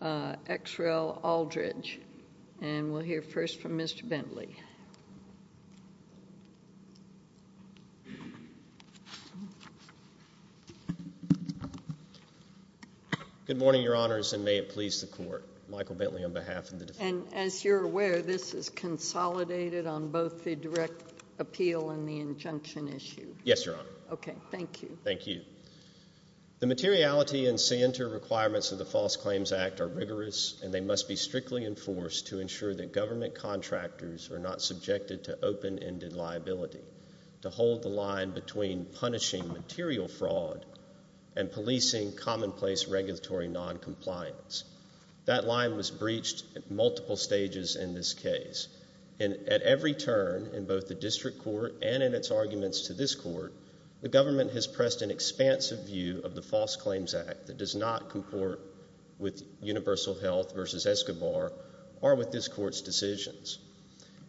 X. Rel. Aldridge. And we'll hear first from Mr. Bentley. Good morning, Your Honors, and may it please the Court. Michael Bentley on behalf of the defense. And as you're aware, this is consolidated on both the direct appeal and the injunction issue. Yes, Your Honor. Okay, thank you. Thank you. The materiality and center requirements of the False Claims Act are rigorous, and they must be strictly enforced to ensure that government contractors are not subjected to open-ended liability, to hold the line between punishing material fraud and policing commonplace regulatory noncompliance. That line was breached at multiple stages in this case. At every turn, in both the district court and in its arguments to this court, the government has pressed an expansive view of the False Claims Act that does not cohort with Universal Health v. Escobar or with this court's decisions.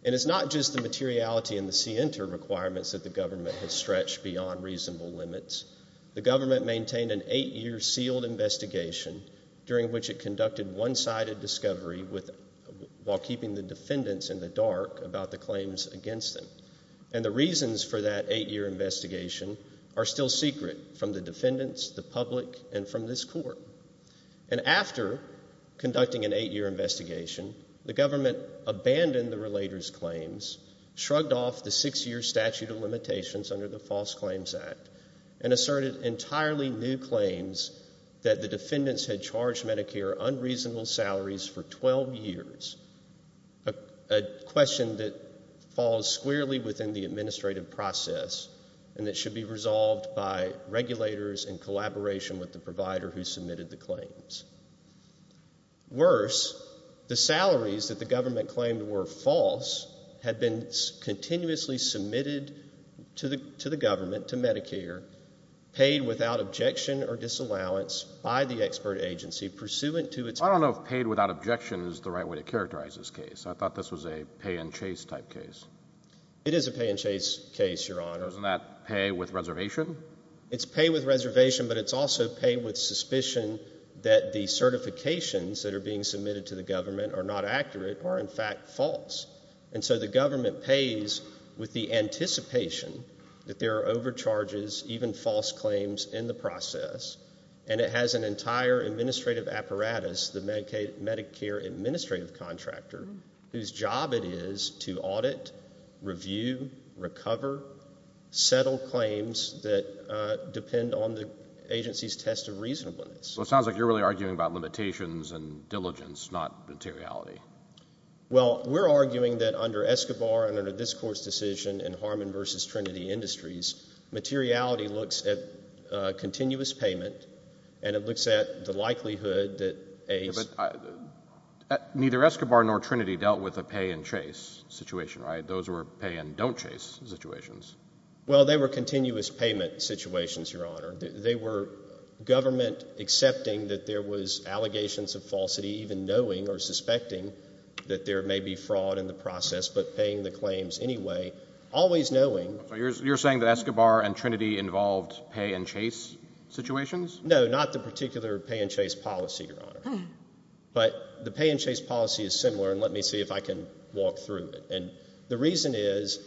And it's not just the materiality and the center requirements that the government has stretched beyond reasonable limits. The government maintained an eight-year sealed investigation, during which it conducted one-sided discovery while keeping the defendants in the dark about the claims against them. And the reasons for that eight-year investigation are still secret from the defendants, the public, and from this court. And after conducting an eight-year investigation, the government abandoned the relators' claims, shrugged off the six-year statute of limitations under the False Claims Act, and asserted entirely new claims that the defendants had charged Medicare unreasonable salaries for 12 years, a question that falls squarely within the administrative process and that should be resolved by regulators in collaboration with the provider who submitted the claims. Worse, the salaries that the government claimed were false had been continuously submitted to the government, to Medicare, paid without objection or disallowance by the expert agency pursuant to its— Well, I don't know if paid without objection is the right way to characterize this case. I thought this was a pay-and-chase type case. It is a pay-and-chase case, Your Honor. Isn't that pay with reservation? It's pay with reservation, but it's also pay with suspicion that the certifications that are being submitted to the government are not accurate or, in fact, false. And so the government pays with the anticipation that there are overcharges, even false claims, in the process, and it has an entire administrative apparatus, the Medicare administrative contractor, whose job it is to audit, review, recover, settle claims that depend on the agency's test of reasonableness. Well, it sounds like you're really arguing about limitations and diligence, not materiality. Well, we're arguing that under Escobar and under this Court's decision in Harmon v. Trinity Industries, materiality looks at continuous payment and it looks at the likelihood that a— But neither Escobar nor Trinity dealt with a pay-and-chase situation, right? Those were pay-and-don't-chase situations. Well, they were continuous payment situations, Your Honor. They were government accepting that there was allegations of falsity, even knowing or suspecting that there may be fraud in the process but paying the claims anyway, always knowing— So you're saying that Escobar and Trinity involved pay-and-chase situations? No, not the particular pay-and-chase policy, Your Honor. But the pay-and-chase policy is similar, and let me see if I can walk through it. And the reason is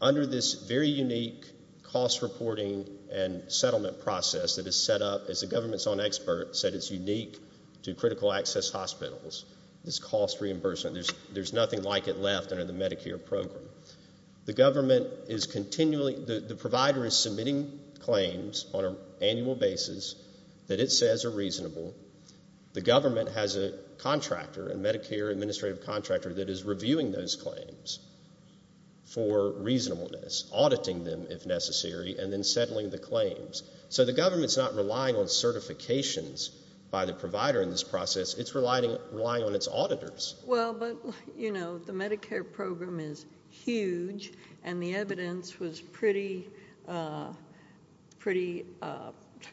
under this very unique cost reporting and settlement process that is set up, as the government's own expert said, it's unique to critical access hospitals, this cost reimbursement. There's nothing like it left under the Medicare program. The government is continually—the provider is submitting claims on an annual basis that it says are reasonable. The government has a contractor, a Medicare administrative contractor, that is reviewing those claims for reasonableness, auditing them if necessary, and then settling the claims. So the government's not relying on certifications by the provider in this process. It's relying on its auditors. Well, but, you know, the Medicare program is huge, and the evidence was pretty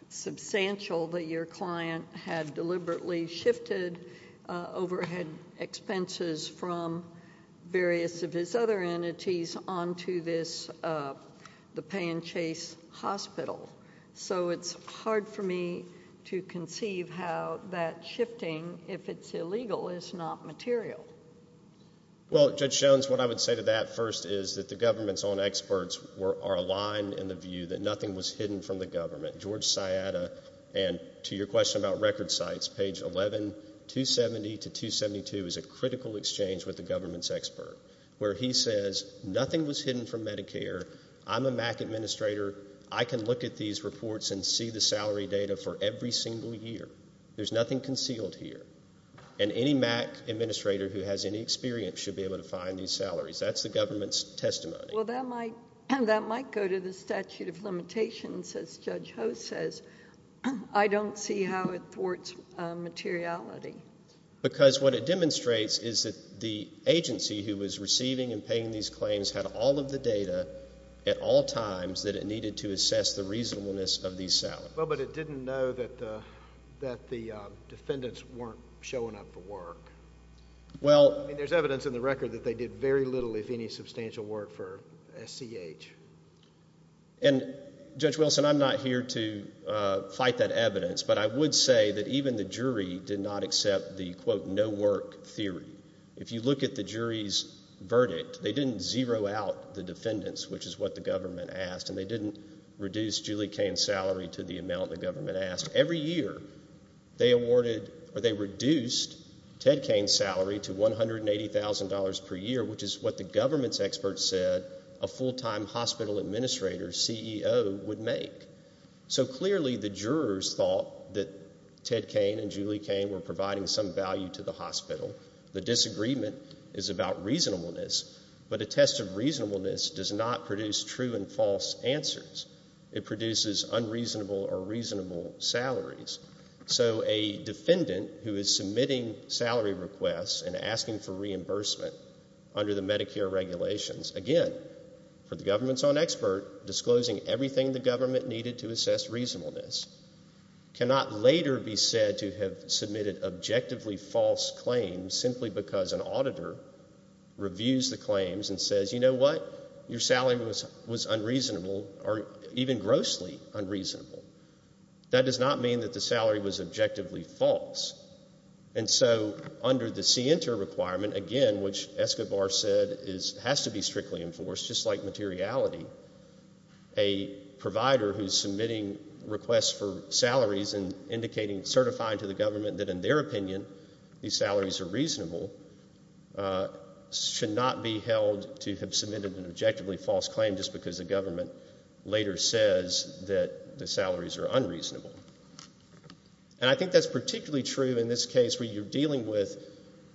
substantial that your client had deliberately shifted overhead expenses from various of his other entities onto this—the pay-and-chase hospital. So it's hard for me to conceive how that shifting, if it's illegal, is not material. Well, Judge Jones, what I would say to that first is that the government's own experts are aligned in the view that nothing was hidden from the government. George Sciatta, and to your question about record sites, page 11, 270 to 272, is a critical exchange with the government's expert, where he says nothing was hidden from Medicare. I'm a MAC administrator. I can look at these reports and see the salary data for every single year. There's nothing concealed here. And any MAC administrator who has any experience should be able to find these salaries. That's the government's testimony. Well, that might go to the statute of limitations, as Judge Ho says. I don't see how it thwarts materiality. Because what it demonstrates is that the agency who was receiving and paying these claims had all of the data at all times that it needed to assess the reasonableness of these salaries. Well, but it didn't know that the defendants weren't showing up for work. I mean, there's evidence in the record that they did very little, if any, substantial work for SCH. And, Judge Wilson, I'm not here to fight that evidence, but I would say that even the jury did not accept the, quote, no work theory. If you look at the jury's verdict, they didn't zero out the defendants, which is what the government asked, and they didn't reduce Julie Cain's salary to the amount the government asked. Every year they awarded or they reduced Ted Cain's salary to $180,000 per year, which is what the government's experts said a full-time hospital administrator, CEO, would make. So clearly the jurors thought that Ted Cain and Julie Cain were providing some value to the hospital. The disagreement is about reasonableness, but a test of reasonableness does not produce true and false answers. It produces unreasonable or reasonable salaries. So a defendant who is submitting salary requests and asking for reimbursement under the Medicare regulations, again, for the government's own expert, disclosing everything the government needed to assess reasonableness, cannot later be said to have submitted objectively false claims simply because an auditor reviews the claims and says, you know what, your salary was unreasonable or even grossly unreasonable. That does not mean that the salary was objectively false. And so under the CENTER requirement, again, which Escobar said has to be strictly enforced, just like materiality, a provider who's submitting requests for salaries and indicating, certifying to the government that in their opinion these salaries are reasonable, should not be held to have submitted an objectively false claim just because the government later says that the salaries are unreasonable. And I think that's particularly true in this case where you're dealing with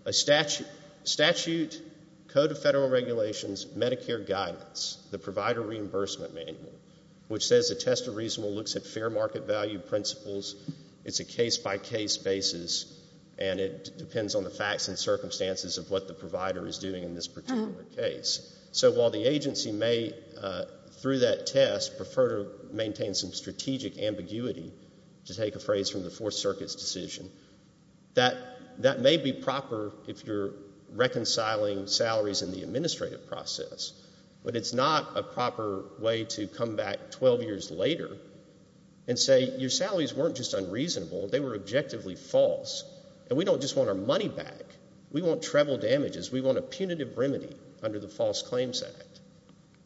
a statute, Code of Federal Regulations, Medicare guidance, the Provider Reimbursement Manual, which says a test of reasonableness looks at fair market value principles. It's a case-by-case basis, and it depends on the facts and circumstances of what the provider is doing in this particular case. So while the agency may, through that test, prefer to maintain some strategic ambiguity, to take a phrase from the Fourth Circuit's decision, that may be proper if you're reconciling salaries in the administrative process, but it's not a proper way to come back 12 years later and say your salaries weren't just unreasonable, they were objectively false, and we don't just want our money back. We want treble damages. We want a punitive remedy under the False Claims Act.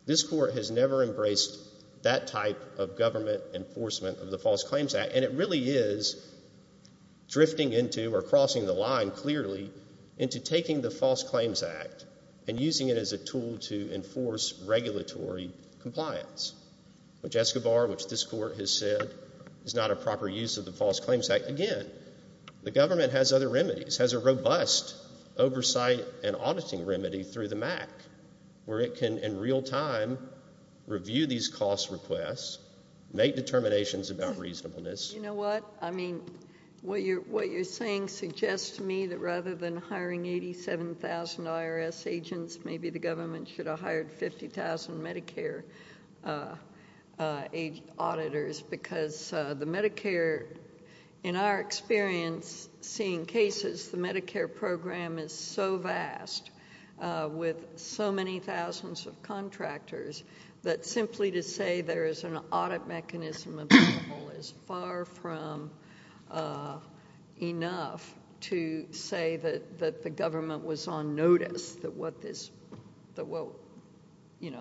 This Court has never embraced that type of government enforcement of the False Claims Act, and it really is drifting into or crossing the line clearly into taking the False Claims Act and using it as a tool to enforce regulatory compliance, which Escobar, which this Court has said is not a proper use of the False Claims Act. Again, the government has other remedies, has a robust oversight and auditing remedy through the MAC, where it can, in real time, review these cost requests, make determinations about reasonableness. You know what? I mean, what you're saying suggests to me that rather than hiring 87,000 IRS agents, maybe the government should have hired 50,000 Medicare auditors because the Medicare, in our experience, seeing cases, the Medicare program is so vast with so many thousands of contractors that simply to say there is an audit mechanism available is far from enough to say that the government was on notice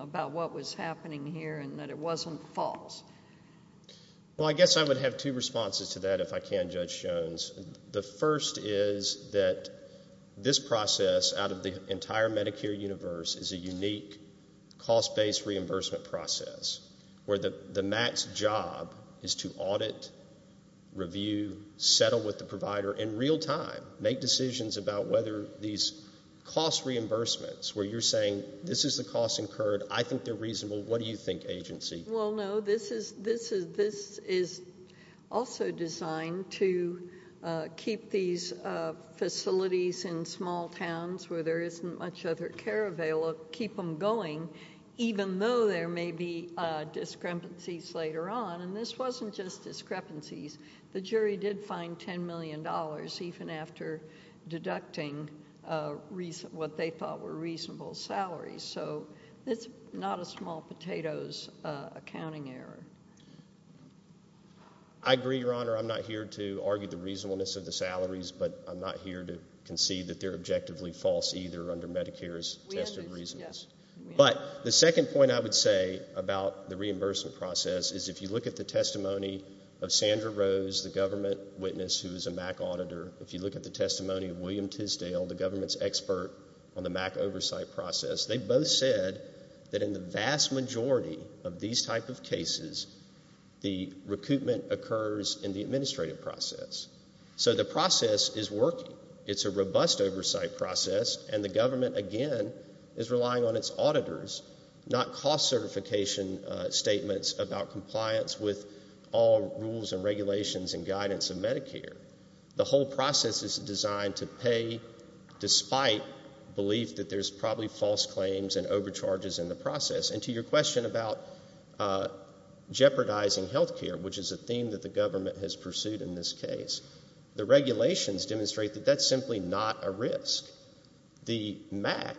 about what was happening here and that it wasn't false. Well, I guess I would have two responses to that if I can, Judge Jones. The first is that this process out of the entire Medicare universe is a unique cost-based reimbursement process where the MAC's job is to audit, review, settle with the provider in real time, make decisions about whether these cost reimbursements where you're saying this is the cost incurred, I think they're reasonable, what do you think, agency? Well, no. This is also designed to keep these facilities in small towns where there isn't much other care available, keep them going even though there may be discrepancies later on. And this wasn't just discrepancies. The jury did find $10 million even after deducting what they thought were reasonable salaries. So it's not a small potatoes accounting error. I agree, Your Honor. I'm not here to argue the reasonableness of the salaries, but I'm not here to concede that they're objectively false either under Medicare's tested reasons. But the second point I would say about the reimbursement process is if you look at the testimony of Sandra Rose, the government witness who is a MAC auditor, if you look at the testimony of William Tisdale, the government's expert on the MAC oversight process, they both said that in the vast majority of these type of cases, the recoupment occurs in the administrative process. So the process is working. It's a robust oversight process, and the government, again, is relying on its auditors, not cost certification statements about compliance with all rules and regulations and guidance of Medicare. The whole process is designed to pay despite belief that there's probably false claims and overcharges in the process. And to your question about jeopardizing health care, which is a theme that the government has pursued in this case, the regulations demonstrate that that's simply not a risk. The MAC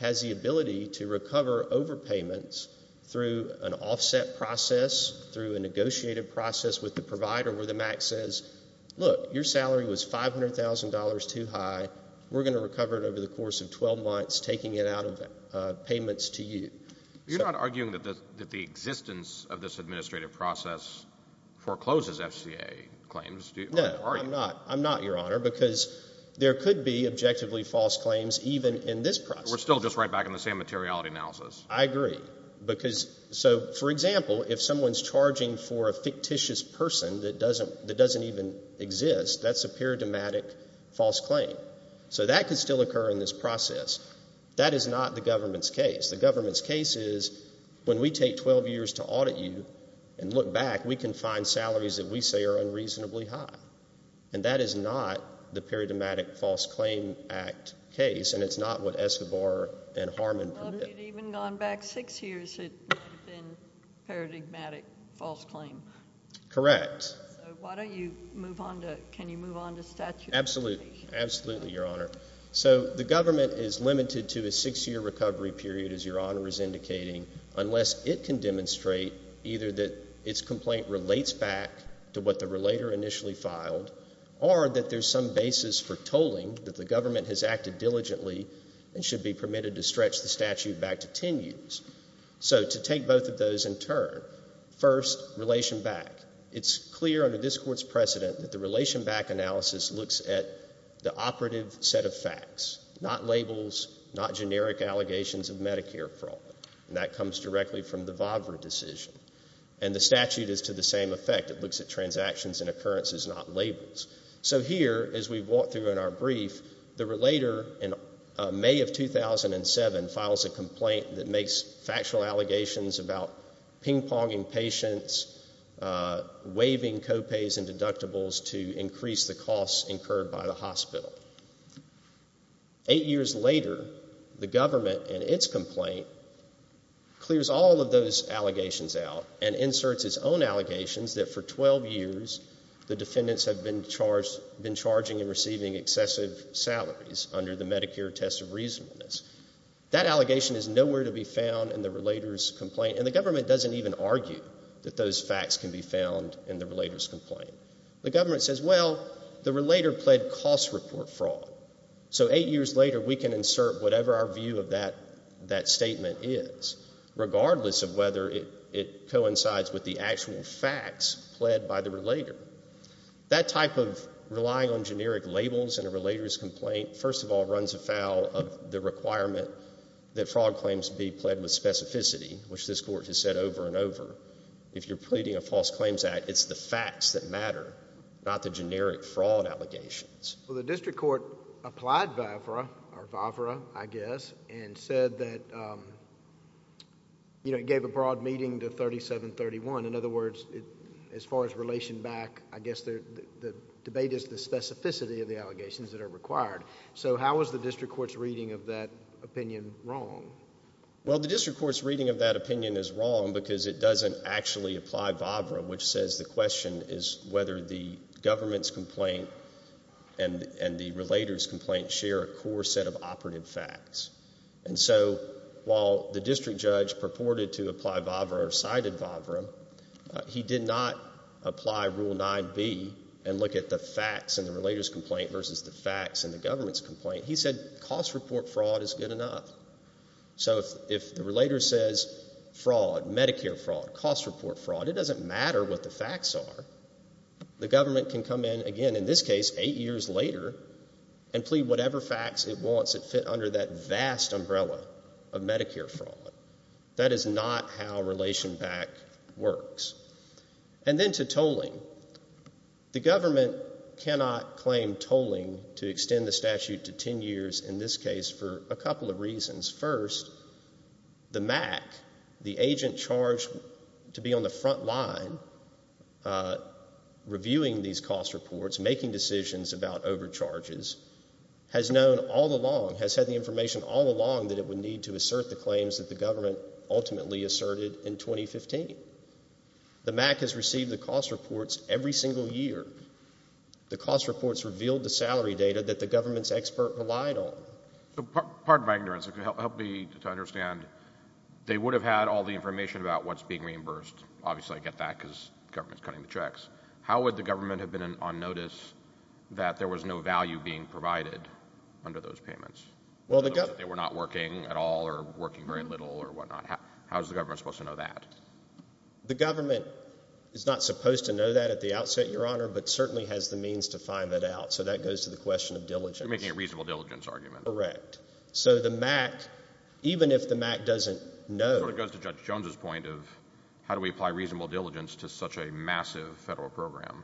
has the ability to recover overpayments through an offset process, through a negotiated process with the provider where the MAC says, look, your salary was $500,000 too high. We're going to recover it over the course of 12 months, taking it out of payments to you. You're not arguing that the existence of this administrative process forecloses FCA claims, are you? No, I'm not. I'm not, Your Honor, because there could be objectively false claims even in this process. We're still just right back in the same materiality analysis. I agree. So, for example, if someone's charging for a fictitious person that doesn't even exist, that's a paradigmatic false claim. So that could still occur in this process. That is not the government's case. The government's case is when we take 12 years to audit you and look back, we can find salaries that we say are unreasonably high, and that is not the paradigmatic false claim act case, and it's not what Escobar and Harmon permitted. Well, if you'd even gone back six years, it would have been a paradigmatic false claim. Correct. So why don't you move on to – can you move on to statute? Absolutely. Absolutely, Your Honor. So the government is limited to a six-year recovery period, as Your Honor is indicating, unless it can demonstrate either that its complaint relates back to what the relator initially filed or that there's some basis for tolling that the government has acted diligently and should be permitted to stretch the statute back to 10 years. So to take both of those in turn, first, relation back. It's clear under this Court's precedent that the relation back analysis looks at the operative set of facts, not labels, not generic allegations of Medicare fraud, and that comes directly from the VAVRA decision, and the statute is to the same effect. It looks at transactions and occurrences, not labels. So here, as we've walked through in our brief, the relator, in May of 2007, files a complaint that makes factual allegations about ping-ponging patients, waiving co-pays and deductibles to increase the costs incurred by the hospital. Eight years later, the government, in its complaint, clears all of those allegations out and inserts its own allegations that for 12 years the defendants have been charging and receiving excessive salaries under the Medicare test of reasonableness. That allegation is nowhere to be found in the relator's complaint, and the government doesn't even argue that those facts can be found in the relator's complaint. The government says, well, the relator pled cost report fraud, so eight years later we can insert whatever our view of that statement is, regardless of whether it coincides with the actual facts pled by the relator. That type of relying on generic labels in a relator's complaint, first of all, runs afoul of the requirement that fraud claims be pled with specificity, which this Court has said over and over. If you're pleading a false claims act, it's the facts that matter, not the generic fraud allegations. Well, the district court applied VAFRA, or VAFRA, I guess, and said that it gave a broad meeting to 3731. In other words, as far as relation back, I guess the debate is the specificity of the allegations that are required. So how is the district court's reading of that opinion wrong? Well, the district court's reading of that opinion is wrong because it doesn't actually apply VAFRA, which says the question is whether the government's complaint and the relator's complaint share a core set of operative facts. And so while the district judge purported to apply VAFRA or cited VAFRA, he did not apply Rule 9b and look at the facts in the relator's complaint versus the facts in the government's complaint. He said cost report fraud is good enough. So if the relator says fraud, Medicare fraud, cost report fraud, it doesn't matter what the facts are. The government can come in again, in this case, 8 years later, and plead whatever facts it wants that fit under that vast umbrella of Medicare fraud. That is not how relation back works. And then to tolling. The government cannot claim tolling to extend the statute to 10 years, in this case, for a couple of reasons. First, the MAC, the agent charged to be on the front line reviewing these cost reports, making decisions about overcharges, has known all along, has had the information all along that it would need to assert the claims that the government ultimately asserted in 2015. The MAC has received the cost reports every single year. The cost reports revealed the salary data that the government's expert relied on. Pardon my ignorance. Help me to understand. They would have had all the information about what's being reimbursed. Obviously I get that because the government's cutting the checks. How would the government have been on notice that there was no value being provided under those payments? They were not working at all or working very little or whatnot. How is the government supposed to know that? The government is not supposed to know that at the outset, Your Honor, but certainly has the means to find that out. So that goes to the question of diligence. You're making a reasonable diligence argument. Correct. So the MAC, even if the MAC doesn't know. It sort of goes to Judge Jones's point of how do we apply reasonable diligence to such a massive federal program.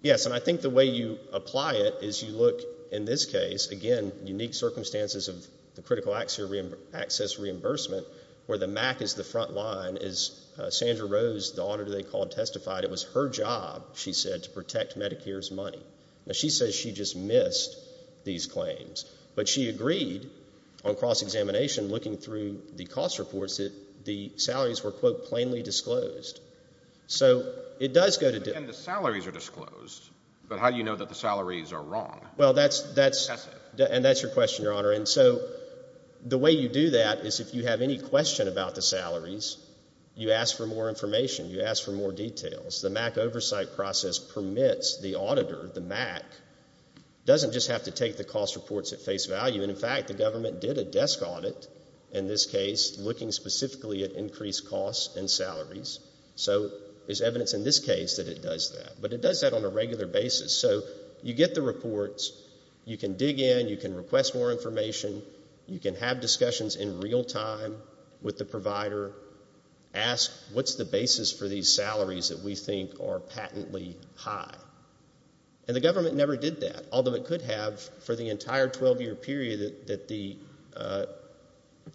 Yes, and I think the way you apply it is you look, in this case, again, unique circumstances of the critical access reimbursement where the MAC is the front line. As Sandra Rose, the auditor they called, testified, it was her job, she said, to protect Medicare's money. Now, she says she just missed these claims, but she agreed on cross-examination looking through the cost reports that the salaries were, quote, plainly disclosed. So it does go to diligence. And the salaries are disclosed, but how do you know that the salaries are wrong? Well, that's your question, Your Honor, and so the way you do that is if you have any question about the salaries, you ask for more information, you ask for more details. The MAC oversight process permits the auditor, the MAC, doesn't just have to take the cost reports at face value. In fact, the government did a desk audit, in this case, looking specifically at increased costs and salaries. So there's evidence in this case that it does that, but it does that on a regular basis. So you get the reports. You can dig in. You can request more information. You can have discussions in real time with the provider. Ask, what's the basis for these salaries that we think are patently high? And the government never did that, although it could have for the entire 12-year period that the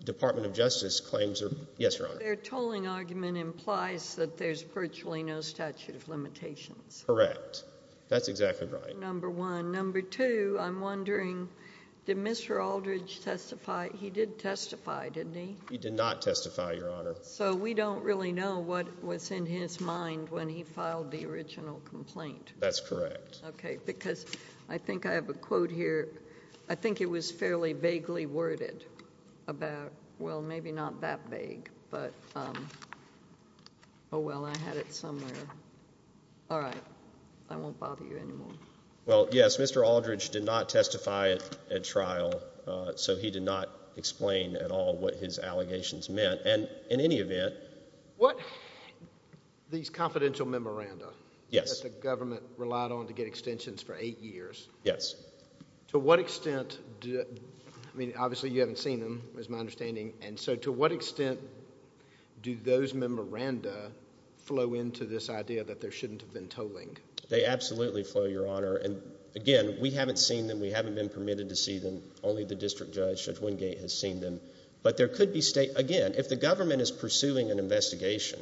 Department of Justice claims. Yes, Your Honor. Their tolling argument implies that there's virtually no statute of limitations. Correct. That's exactly right. Number one. Number two, I'm wondering, did Mr. Aldridge testify? He did testify, didn't he? He did not testify, Your Honor. So we don't really know what was in his mind when he filed the original complaint. That's correct. Okay, because I think I have a quote here. I think it was fairly vaguely worded about, well, maybe not that vague, but oh, well, I had it somewhere. All right. I won't bother you anymore. Well, yes, Mr. Aldridge did not testify at trial, so he did not explain at all what his allegations meant. And in any event— What—these confidential memoranda that the government relied on to get extensions for eight years. Yes. To what extent—I mean, obviously you haven't seen them, is my understanding. And so to what extent do those memoranda flow into this idea that there shouldn't have been tolling? They absolutely flow, Your Honor. And, again, we haven't seen them. We haven't been permitted to see them. Only the district judge, Judge Wingate, has seen them. But there could be—again, if the government is pursuing an investigation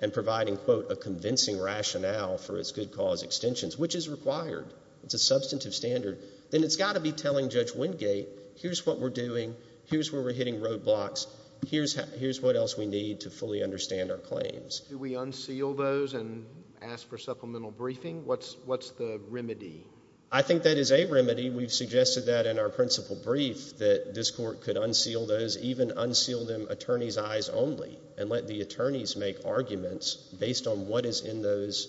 and providing, quote, a convincing rationale for its good cause extensions, which is required, it's a substantive standard, then it's got to be telling Judge Wingate, here's what we're doing, here's where we're hitting roadblocks, here's what else we need to fully understand our claims. Do we unseal those and ask for supplemental briefing? What's the remedy? I think that is a remedy. We've suggested that in our principal brief, that this court could unseal those, even unseal them attorney's eyes only, and let the attorneys make arguments based on what is in those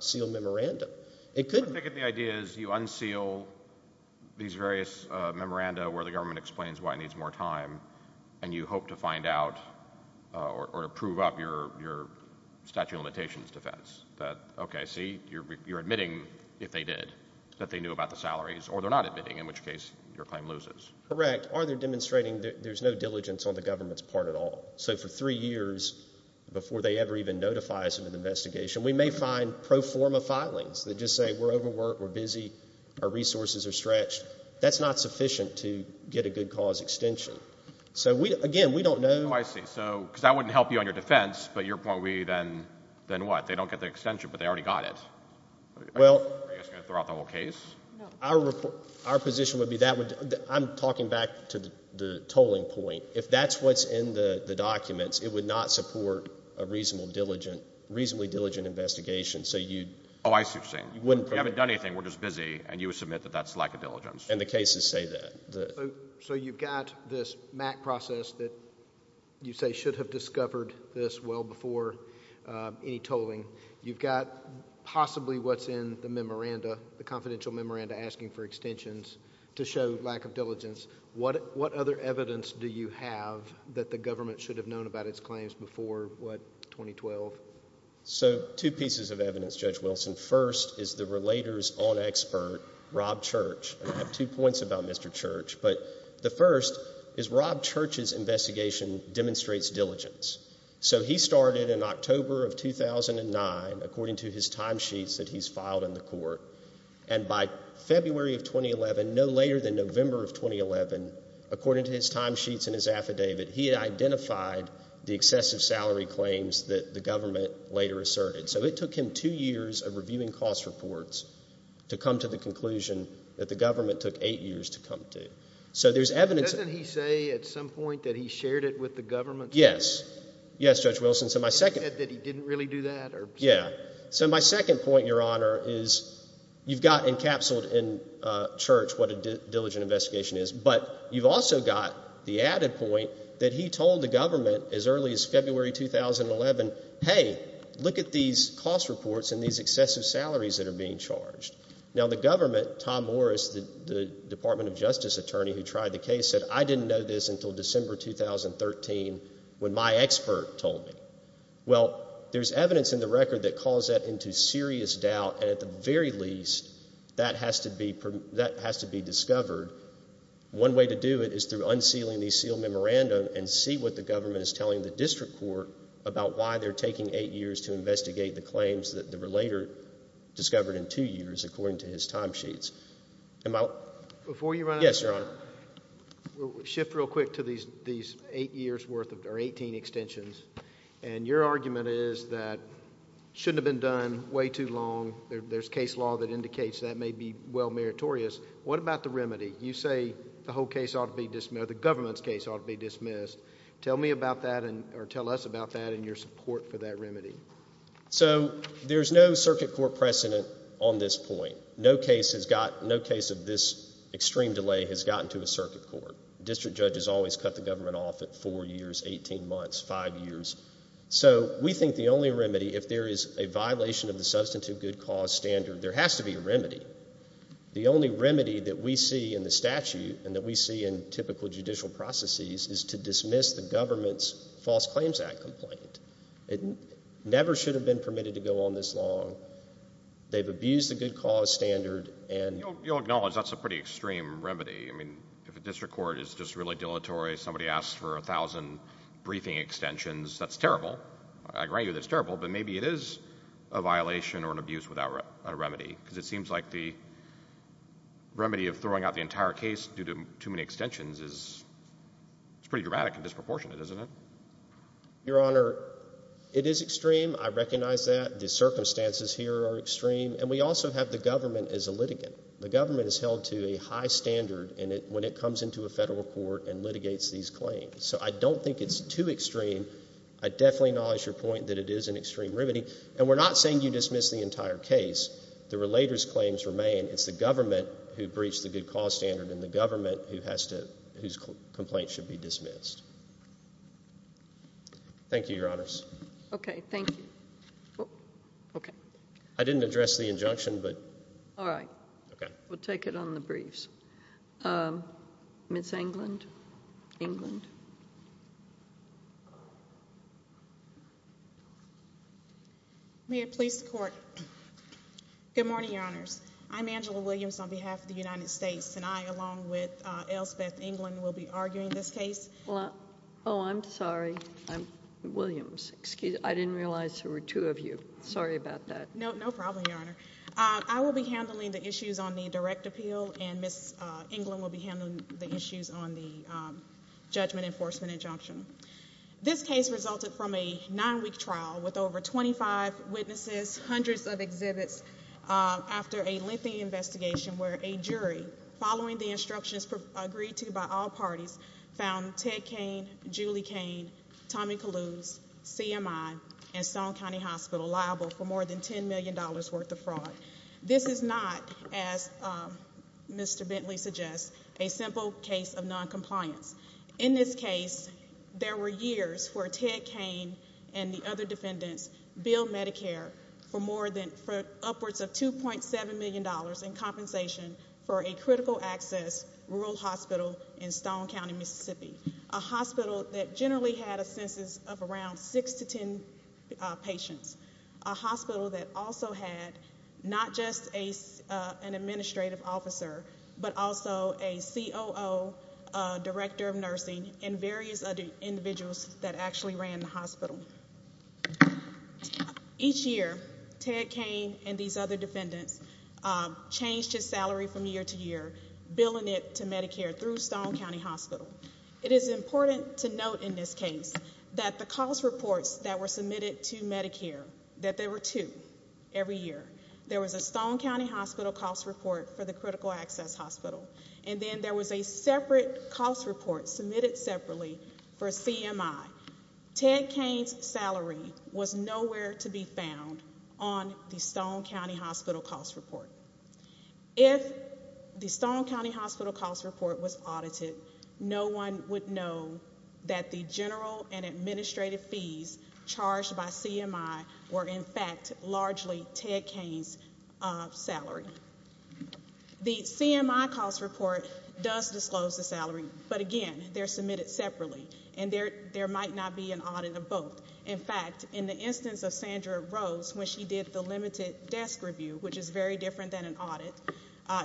sealed memoranda. It could— I'm thinking the idea is you unseal these various memoranda where the government explains why it needs more time, and you hope to find out or prove up your statute of limitations defense. That, okay, see, you're admitting, if they did, that they knew about the salaries, or they're not admitting, in which case your claim loses. Correct. Or they're demonstrating there's no diligence on the government's part at all. So for three years before they ever even notify us of an investigation, we may find pro forma filings that just say we're overworked, we're busy, our resources are stretched. That's not sufficient to get a good cause extension. So again, we don't know— Oh, I see. Because that wouldn't help you on your defense, but your point would be then what? They don't get the extension, but they already got it. Well— Are you just going to throw out the whole case? No. Our position would be that would—I'm talking back to the tolling point. If that's what's in the documents, it would not support a reasonably diligent investigation. So you— Oh, I see what you're saying. You haven't done anything. We're just busy, and you would submit that that's lack of diligence. And the cases say that. So you've got this MAC process that you say should have discovered this well before any tolling. You've got possibly what's in the memoranda, the confidential memoranda asking for extensions to show lack of diligence. What other evidence do you have that the government should have known about its claims before, what, 2012? So two pieces of evidence, Judge Wilson. First is the relator's own expert, Rob Church. I have two points about Mr. Church. But the first is Rob Church's investigation demonstrates diligence. So he started in October of 2009, according to his timesheets that he's filed in the court. And by February of 2011, no later than November of 2011, according to his timesheets in his affidavit, he had identified the excessive salary claims that the government later asserted. So it took him two years of reviewing cost reports to come to the conclusion that the government took eight years to come to. So there's evidence. Doesn't he say at some point that he shared it with the government? Yes. Yes, Judge Wilson. Did he say that he didn't really do that? Yeah. So my second point, Your Honor, is you've got encapsulated in Church what a diligent investigation is. But you've also got the added point that he told the government as early as February 2011, hey, look at these cost reports and these excessive salaries that are being charged. Now, the government, Tom Morris, the Department of Justice attorney who tried the case, said I didn't know this until December 2013 when my expert told me. Well, there's evidence in the record that calls that into serious doubt, and at the very least that has to be discovered. One way to do it is through unsealing the sealed memorandum and see what the government is telling the district court about why they're taking eight years to investigate the claims that were later discovered in two years according to his timesheets. Before you run out of time, we'll shift real quick to these eight years' worth or 18 extensions. And your argument is that it shouldn't have been done way too long. There's case law that indicates that may be well meritorious. What about the remedy? You say the whole case ought to be dismissed or the government's case ought to be dismissed. Tell me about that or tell us about that and your support for that remedy. So there's no circuit court precedent on this point. No case of this extreme delay has gotten to a circuit court. District judges always cut the government off at four years, 18 months, five years. So we think the only remedy, if there is a violation of the substantive good cause standard, there has to be a remedy. The only remedy that we see in the statute and that we see in typical judicial processes is to dismiss the government's False Claims Act complaint. It never should have been permitted to go on this long. They've abused the good cause standard. You'll acknowledge that's a pretty extreme remedy. I mean, if a district court is just really dilatory, somebody asks for a thousand briefing extensions, that's terrible. I agree with you that it's terrible, but maybe it is a violation or an abuse without a remedy because it seems like the remedy of throwing out the entire case due to too many extensions is pretty dramatic and disproportionate, isn't it? Your Honor, it is extreme. I recognize that. The circumstances here are extreme. And we also have the government as a litigant. The government is held to a high standard when it comes into a federal court and litigates these claims. So I don't think it's too extreme. I definitely acknowledge your point that it is an extreme remedy. And we're not saying you dismiss the entire case. The relator's claims remain. It's the government who breached the good cause standard and the government whose complaint should be dismissed. Okay, thank you. I didn't address the injunction. All right. We'll take it on the briefs. Ms. England? England? May it please the Court. Good morning, Your Honors. I'm Angela Williams on behalf of the United States. And I, along with L. Speth England, will be arguing this case. Oh, I'm sorry. I'm Williams. I didn't realize there were two of you. Sorry about that. No problem, Your Honor. I will be handling the issues on the direct appeal, and Ms. England will be handling the issues on the judgment enforcement injunction. This case resulted from a nine-week trial with over 25 witnesses, hundreds of exhibits, after a lengthy investigation where a jury, following the instructions agreed to by all parties, found Ted Cain, Julie Cain, Tommy Calouse, CMI, and Stone County Hospital liable for more than $10 million worth of fraud. This is not, as Mr. Bentley suggests, a simple case of noncompliance. In this case, there were years where Ted Cain and the other defendants billed Medicare for upwards of $2.7 million in compensation for a critical access rural hospital in Stone County, Mississippi, a hospital that generally had a census of around six to ten patients, a hospital that also had not just an administrative officer but also a COO, director of nursing, and various other individuals that actually ran the hospital. Each year, Ted Cain and these other defendants changed his salary from year to year, billing it to Medicare through Stone County Hospital. It is important to note in this case that the cost reports that were submitted to Medicare, that there were two every year. There was a Stone County Hospital cost report for the critical access hospital, and then there was a separate cost report submitted separately for CMI. Ted Cain's salary was nowhere to be found on the Stone County Hospital cost report. If the Stone County Hospital cost report was audited, no one would know that the general and administrative fees charged by CMI were in fact largely Ted Cain's salary. The CMI cost report does disclose the salary, but again, they're submitted separately, and there might not be an audit of both. In fact, in the instance of Sandra Rose, when she did the limited desk review, which is very different than an audit,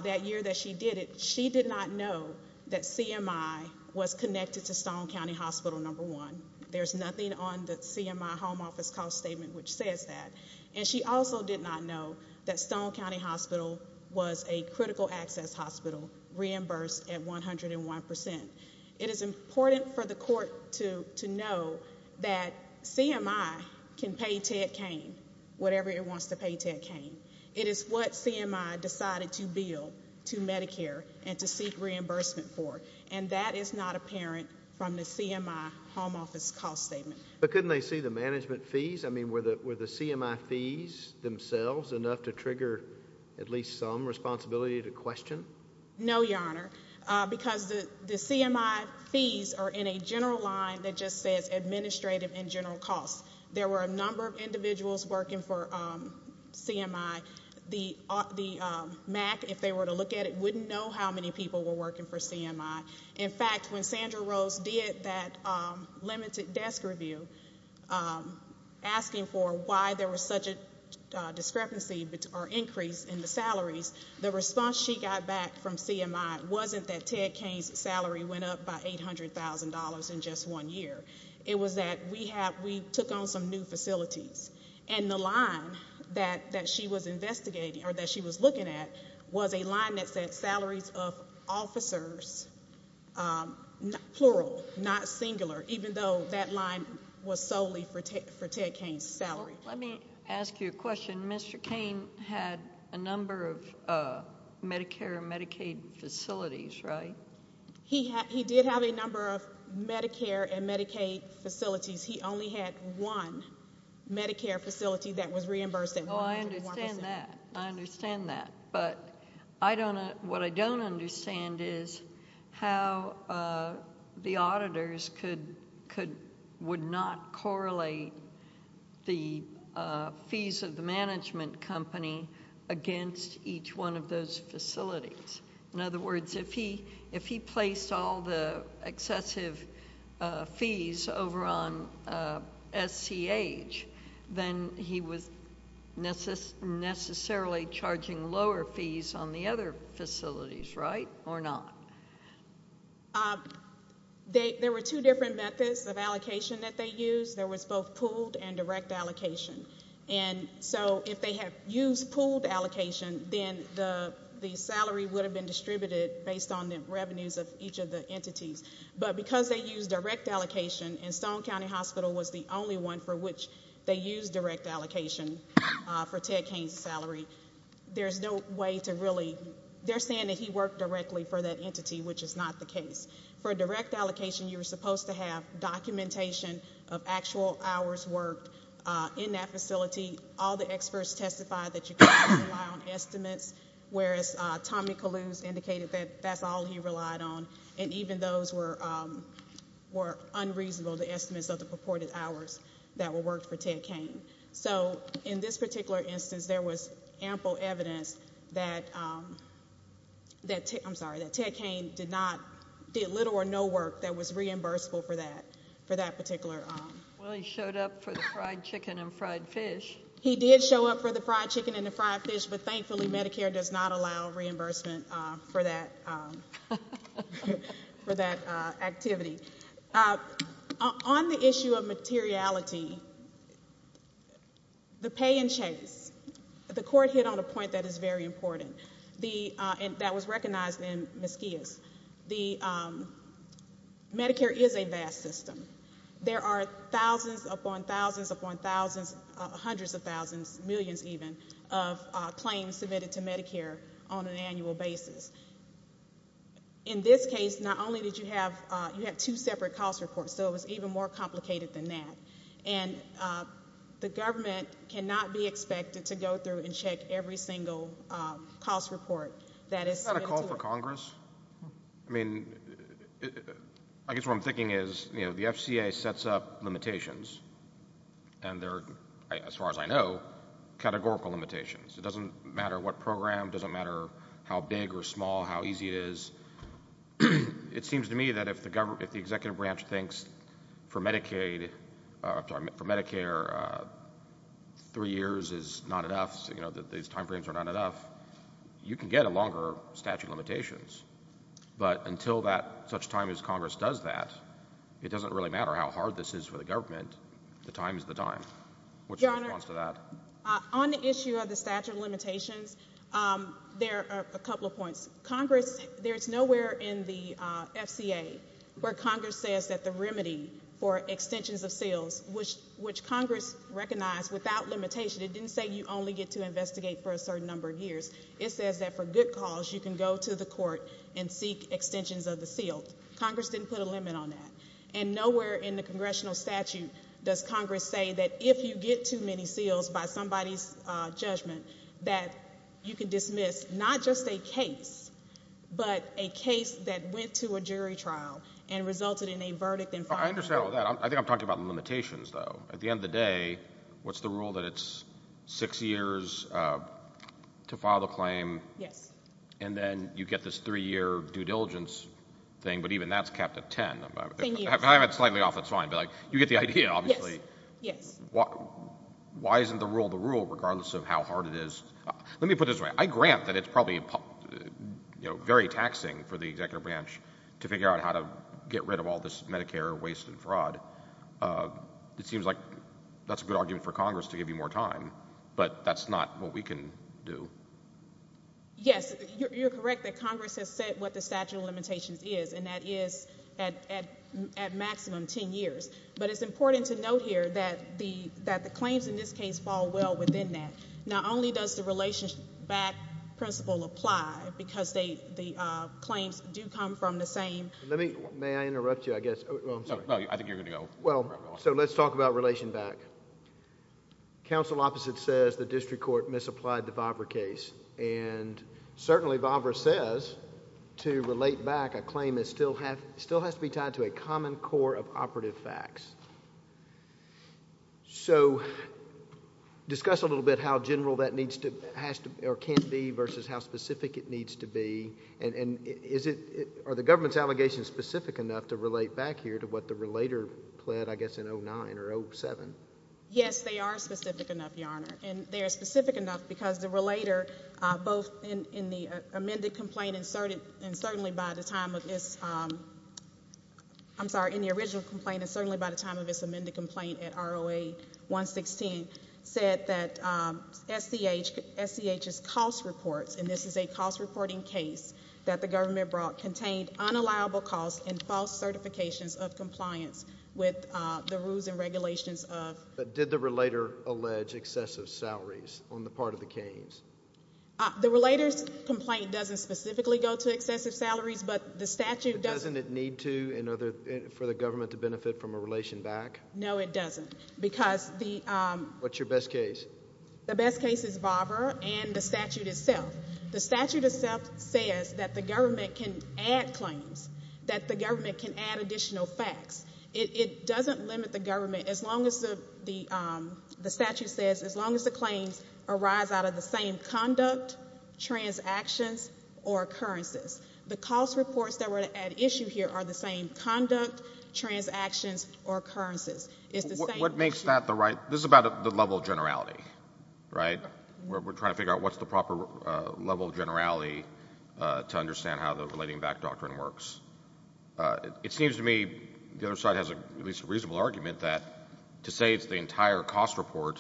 that year that she did it, she did not know that CMI was connected to Stone County Hospital, number one. There's nothing on the CMI home office cost statement which says that. And she also did not know that Stone County Hospital was a critical access hospital reimbursed at 101%. It is important for the court to know that CMI can pay Ted Cain whatever it wants to pay Ted Cain. It is what CMI decided to bill to Medicare and to seek reimbursement for, and that is not apparent from the CMI home office cost statement. But couldn't they see the management fees? I mean, were the CMI fees themselves enough to trigger at least some responsibility to question? No, Your Honor, because the CMI fees are in a general line that just says administrative and general costs. There were a number of individuals working for CMI. The MAC, if they were to look at it, wouldn't know how many people were working for CMI. In fact, when Sandra Rose did that limited desk review, asking for why there was such a discrepancy or increase in the salaries, the response she got back from CMI wasn't that Ted Cain's salary went up by $800,000 in just one year. It was that we took on some new facilities, and the line that she was investigating or that she was looking at was a line that said salaries of officers, plural, not singular, even though that line was solely for Ted Cain's salary. Let me ask you a question. Mr. Cain had a number of Medicare and Medicaid facilities, right? He did have a number of Medicare and Medicaid facilities. He only had one Medicare facility that was reimbursed at 101%. Oh, I understand that. I understand that. But what I don't understand is how the auditors would not correlate the fees of the management company against each one of those facilities. In other words, if he placed all the excessive fees over on SCH, then he was necessarily charging lower fees on the other facilities, right, or not? There were two different methods of allocation that they used. There was both pooled and direct allocation. And so if they had used pooled allocation, then the salary would have been distributed based on the revenues of each of the entities. But because they used direct allocation, and Stone County Hospital was the only one for which they used direct allocation for Ted Cain's salary, there's no way to really – they're saying that he worked directly for that entity, which is not the case. For direct allocation, you were supposed to have documentation of actual hours worked in that facility. All the experts testified that you couldn't rely on estimates, whereas Tommy Caloos indicated that that's all he relied on, and even those were unreasonable, the estimates of the purported hours that were worked for Ted Cain. So in this particular instance, there was ample evidence that – I'm sorry, that Ted Cain did little or no work that was reimbursable for that particular – Well, he showed up for the fried chicken and fried fish. He did show up for the fried chicken and the fried fish, but thankfully Medicare does not allow reimbursement for that activity. On the issue of materiality, the pay and chase, the court hit on a point that is very important and that was recognized in Mesquia's. Medicare is a vast system. There are thousands upon thousands upon thousands, hundreds of thousands, millions even, of claims submitted to Medicare on an annual basis. In this case, not only did you have – you had two separate cost reports, so it was even more complicated than that. And the government cannot be expected to go through and check every single cost report that is submitted to it. Is that a call for Congress? I mean, I guess what I'm thinking is, you know, the FCA sets up limitations, and they're, as far as I know, categorical limitations. It doesn't matter what program, doesn't matter how big or small, how easy it is. It seems to me that if the executive branch thinks for Medicaid – I'm sorry, for Medicare, three years is not enough, you know, that these timeframes are not enough, you can get a longer statute of limitations. But until that such time as Congress does that, it doesn't really matter how hard this is for the government. The time is the time. What's your response to that? On the issue of the statute of limitations, there are a couple of points. Congress – there's nowhere in the FCA where Congress says that the remedy for extensions of seals, which Congress recognized without limitation – it didn't say you only get to investigate for a certain number of years. It says that for good cause, you can go to the court and seek extensions of the seal. Congress didn't put a limit on that. And nowhere in the congressional statute does Congress say that if you get too many seals by somebody's judgment, that you can dismiss not just a case, but a case that went to a jury trial and resulted in a verdict in five years. I understand all that. I think I'm talking about limitations, though. At the end of the day, what's the rule that it's six years to file the claim? Yes. And then you get this three-year due diligence thing, but even that's capped at ten. Ten years. I have it slightly off. It's fine. But, like, you get the idea, obviously. Yes. Yes. Why isn't the rule the rule, regardless of how hard it is? Let me put it this way. I grant that it's probably, you know, very taxing for the executive branch to figure out how to get rid of all this Medicare waste and fraud. It seems like that's a good argument for Congress to give you more time, but that's not what we can do. Yes. You're correct that Congress has said what the statute of limitations is, and that is at maximum ten years. But it's important to note here that the claims in this case fall well within that. Not only does the relation back principle apply, because the claims do come from the same... May I interrupt you, I guess? No, I think you're going to go. Well, so let's talk about relation back. Counsel opposite says the district court misapplied the Vobrer case, and certainly Vobrer says to relate back a claim still has to be tied to a common core of operative facts. So discuss a little bit how general that can be versus how specific it needs to be, and are the government's allegations specific enough to relate back here to what the relator pled, I guess, in 09 or 07? Yes, they are specific enough, Your Honor, and they are specific enough because the relator, both in the amended complaint and certainly by the time of its... I'm sorry, in the original complaint and certainly by the time of its amended complaint at ROA 116, said that SCH's cost reports, and this is a cost reporting case that the government brought, contained unallowable costs and false certifications of compliance with the rules and regulations of... But did the relator allege excessive salaries on the part of the Keynes? The relator's complaint doesn't specifically go to excessive salaries, but the statute doesn't... But doesn't it need to for the government to benefit from a relation back? No, it doesn't because the... What's your best case? The best case is Vobrer and the statute itself. The statute itself says that the government can add claims, that the government can add additional facts. It doesn't limit the government as long as the statute says, as long as the claims arise out of the same conduct, transactions, or occurrences. The cost reports that were at issue here are the same conduct, transactions, or occurrences. It's the same... What makes that the right... This is about the level of generality, right? We're trying to figure out what's the proper level of generality to understand how the relating back doctrine works. It seems to me the other side has at least a reasonable argument that to say it's the entire cost report,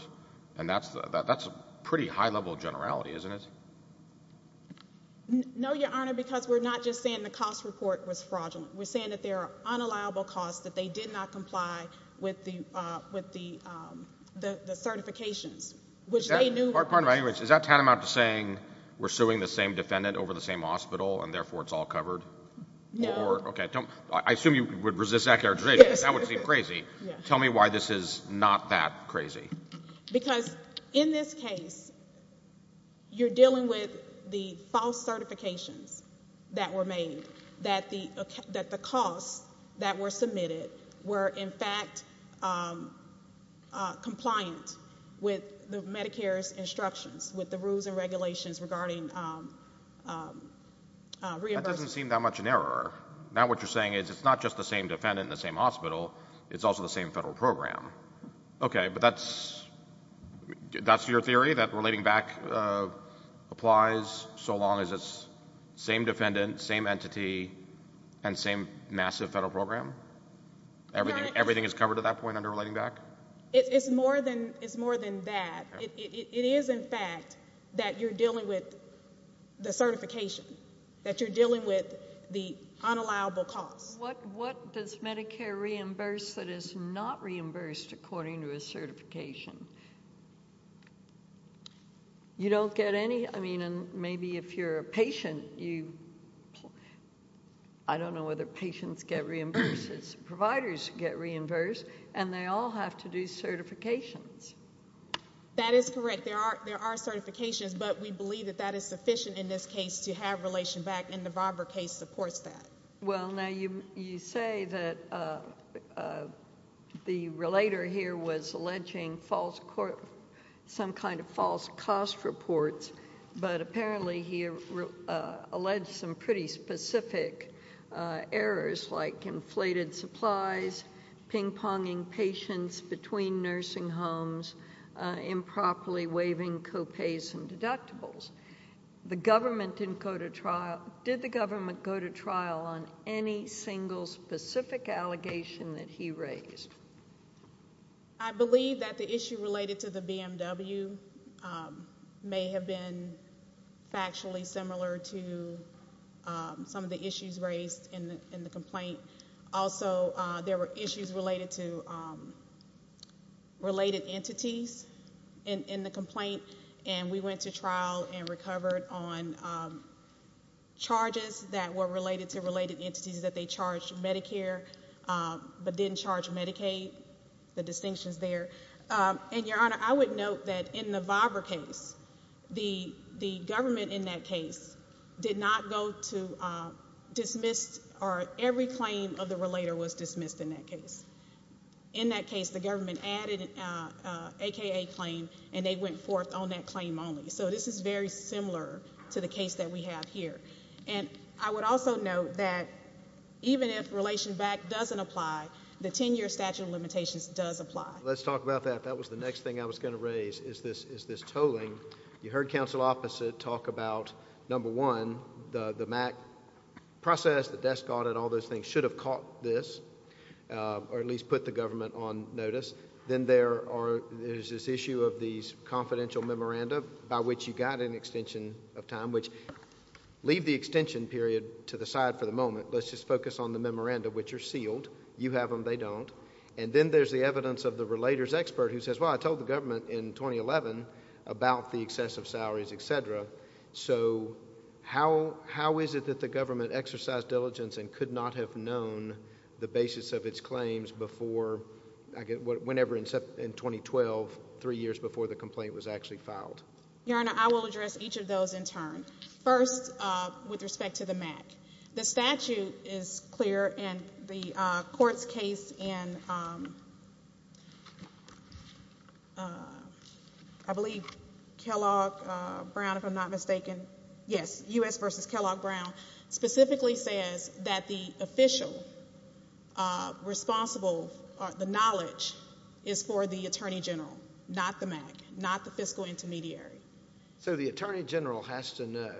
and that's a pretty high level of generality, isn't it? No, Your Honor, because we're not just saying the cost report was fraudulent. We're saying that there are unallowable costs that they did not comply with the certifications, which they knew... Is that tantamount to saying we're suing the same defendant over the same hospital, and therefore it's all covered? No. Okay. I assume you would resist that clarification. Yes. That would seem crazy. Tell me why this is not that crazy. Because in this case, you're dealing with the false certifications that were made, that the costs that were submitted were in fact compliant with Medicare's instructions, with the rules and regulations regarding reimbursement. That doesn't seem that much an error. Now what you're saying is it's not just the same defendant in the same hospital. It's also the same federal program. Okay, but that's your theory, that relating back applies so long as it's the same defendant, same entity, and same massive federal program? Everything is covered at that point under relating back? It's more than that. It is, in fact, that you're dealing with the certification, that you're dealing with the unallowable costs. What does Medicare reimburse that is not reimbursed according to a certification? You don't get any? I mean, maybe if you're a patient, you... I don't know whether patients get reimbursed, providers get reimbursed, and they all have to do certifications. That is correct. There are certifications, but we believe that that is sufficient in this case to have relation back, and the Bobber case supports that. Well, now you say that the relator here was alleging some kind of false cost reports, but apparently he alleged some pretty specific errors like inflated supplies, ping-ponging patients between nursing homes, improperly waiving co-pays and deductibles. The government didn't go to trial. Did the government go to trial on any single specific allegation that he raised? I believe that the issue related to the BMW may have been factually similar to some of the issues raised in the complaint. Also, there were issues related to related entities in the complaint, and we went to trial and recovered on charges that were related to related entities, that they charged Medicare but didn't charge Medicaid, the distinctions there. And, Your Honor, I would note that in the Bobber case, the government in that case did not go to dismiss or every claim of the relator was dismissed in that case. In that case, the government added an AKA claim, and they went forth on that claim only. So this is very similar to the case that we have here. And I would also note that even if relation back doesn't apply, the 10-year statute of limitations does apply. Let's talk about that. That was the next thing I was going to raise is this tolling. You heard counsel opposite talk about, number one, the MAC process, the desk audit, all those things should have caught this or at least put the government on notice. Then there is this issue of these confidential memoranda by which you got an extension of time, which leave the extension period to the side for the moment. Let's just focus on the memoranda, which are sealed. You have them. They don't. And then there is the evidence of the relator's expert who says, well, I told the government in 2011 about the excessive salaries, et cetera. So how is it that the government exercised diligence and could not have known the basis of its claims whenever in 2012, three years before the complaint was actually filed? Your Honor, I will address each of those in turn. First, with respect to the MAC. The statute is clear, and the court's case in, I believe, Kellogg-Brown, if I'm not mistaken. Yes, U.S. v. Kellogg-Brown specifically says that the official responsible, the knowledge is for the attorney general, not the MAC, not the fiscal intermediary. So the attorney general has to know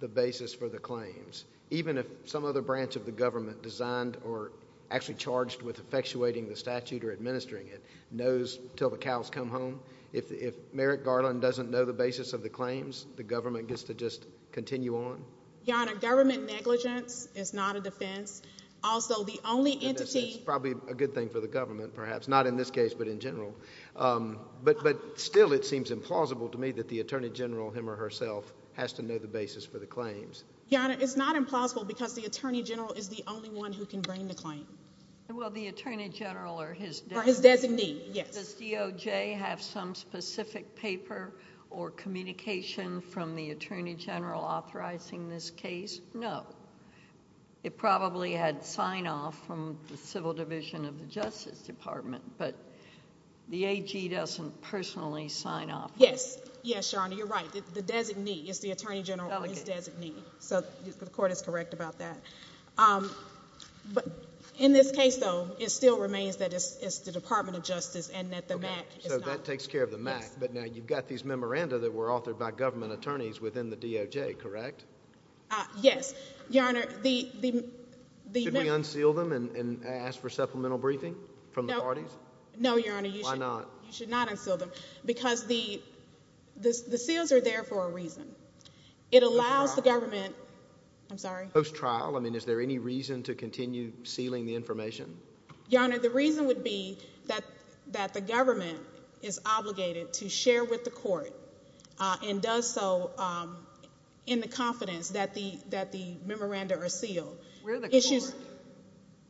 the basis for the claims, even if some other branch of the government designed or actually charged with effectuating the statute or administering it knows until the cows come home? If Merrick Garland doesn't know the basis of the claims, the government gets to just continue on? Your Honor, government negligence is not a defense. Also, the only entity... It's probably a good thing for the government, perhaps, not in this case, but in general. But still, it seems implausible to me that the attorney general, him or herself, has to know the basis for the claims. Your Honor, it's not implausible because the attorney general is the only one who can bring the claim. Well, the attorney general or his... Or his designee, yes. Does DOJ have some specific paper or communication from the attorney general authorizing this case? No. It probably had sign-off from the Civil Division of the Justice Department, but the AG doesn't personally sign-off. Yes. Yes, Your Honor, you're right. The designee is the attorney general or his designee, so the Court is correct about that. But in this case, though, it still remains that it's the Department of Justice and that the MAC is not... Okay. So that takes care of the MAC. Yes. But now you've got these memoranda that were authored by government attorneys within the DOJ, correct? Yes. Your Honor, the... Should we unseal them and ask for supplemental briefing from the parties? No. No, Your Honor, you should... Why not? You should not unseal them because the seals are there for a reason. It allows the government... Post-trial. I'm sorry? Post-trial. I mean, is there any reason to continue sealing the information? Your Honor, the reason would be that the government is obligated to share with the Court and does so in the confidence that the memoranda are sealed. We're the Court. Issues...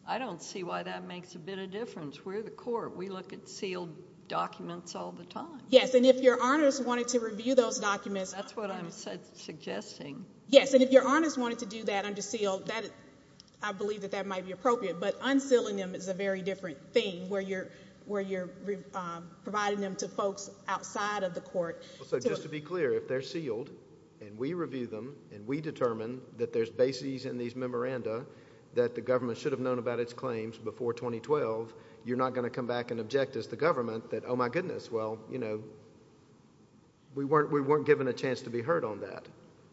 I don't see why that makes a bit of difference. We're the Court. We look at sealed documents all the time. Yes, and if Your Honors wanted to review those documents... That's what I'm suggesting. Yes, and if Your Honors wanted to do that under seal, I believe that that might be appropriate. But unsealing them is a very different thing where you're providing them to folks outside of the Court. So, just to be clear, if they're sealed and we review them and we determine that there's bases in these memoranda that the government should have known about its claims before 2012, you're not going to come back and object as the government that, oh, my goodness, well, you know, we weren't given a chance to be heard on that.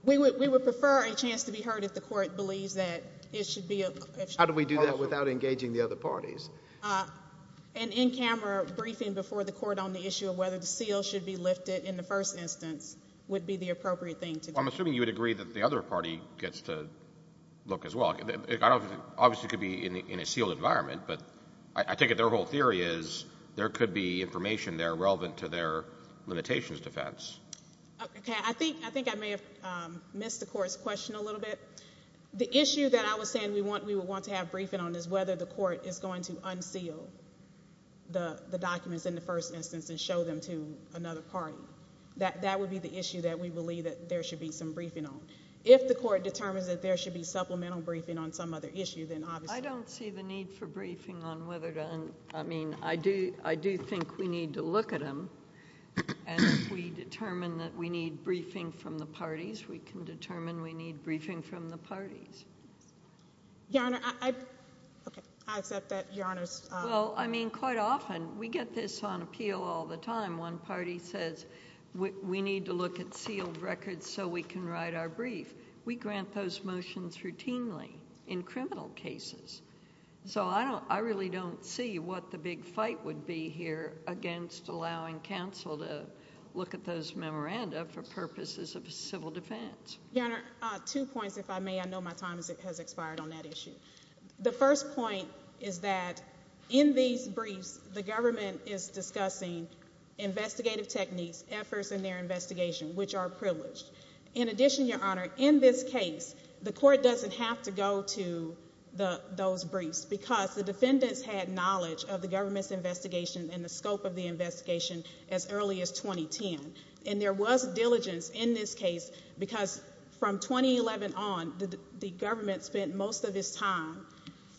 We would prefer a chance to be heard if the Court believes that it should be... How do we do that without engaging the other parties? An in-camera briefing before the Court on the issue of whether the seal should be lifted in the first instance would be the appropriate thing to do. Well, I'm assuming you would agree that the other party gets to look as well. It obviously could be in a sealed environment, but I take it their whole theory is there could be information there relevant to their limitations defense. Okay. I think I may have missed the Court's question a little bit. The issue that I was saying we would want to have briefing on is whether the Court is going to unseal the documents in the first instance and show them to another party. That would be the issue that we believe that there should be some briefing on. If the Court determines that there should be supplemental briefing on some other issue, then obviously... I don't see the need for briefing on whether to... I mean, I do think we need to look at them, and if we determine that we need briefing from the parties, we can determine we need briefing from the parties. Your Honor, I... Okay. I accept that Your Honor's... Well, I mean, quite often we get this on appeal all the time. One party says we need to look at sealed records so we can write our brief. We grant those motions routinely in criminal cases. I really don't see what the big fight would be here against allowing counsel to look at those memoranda for purposes of civil defense. Your Honor, two points, if I may. I know my time has expired on that issue. The first point is that in these briefs, the government is discussing investigative techniques, efforts in their investigation, which are privileged. In addition, Your Honor, in this case, the court doesn't have to go to those briefs, because the defendants had knowledge of the government's investigation and the scope of the investigation as early as 2010. And there was diligence in this case, because from 2011 on, the government spent most of its time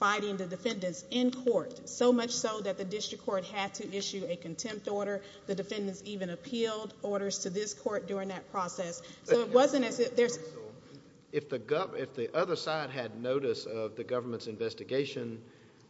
fighting the defendants in court, so much so that the district court had to issue a contempt order. The defendants even appealed orders to this court during that process. So it wasn't as if there's— If the other side had notice of the government's investigation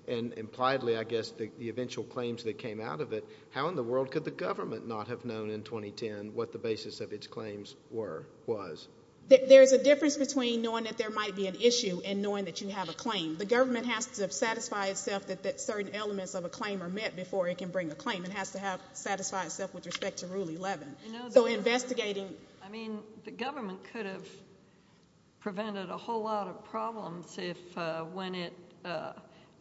and impliedly, I guess, the eventual claims that came out of it, how in the world could the government not have known in 2010 what the basis of its claims was? There's a difference between knowing that there might be an issue and knowing that you have a claim. The government has to satisfy itself that certain elements of a claim are met before it can bring a claim. It has to satisfy itself with respect to Rule 11. So investigating— I mean, the government could have prevented a whole lot of problems if, when it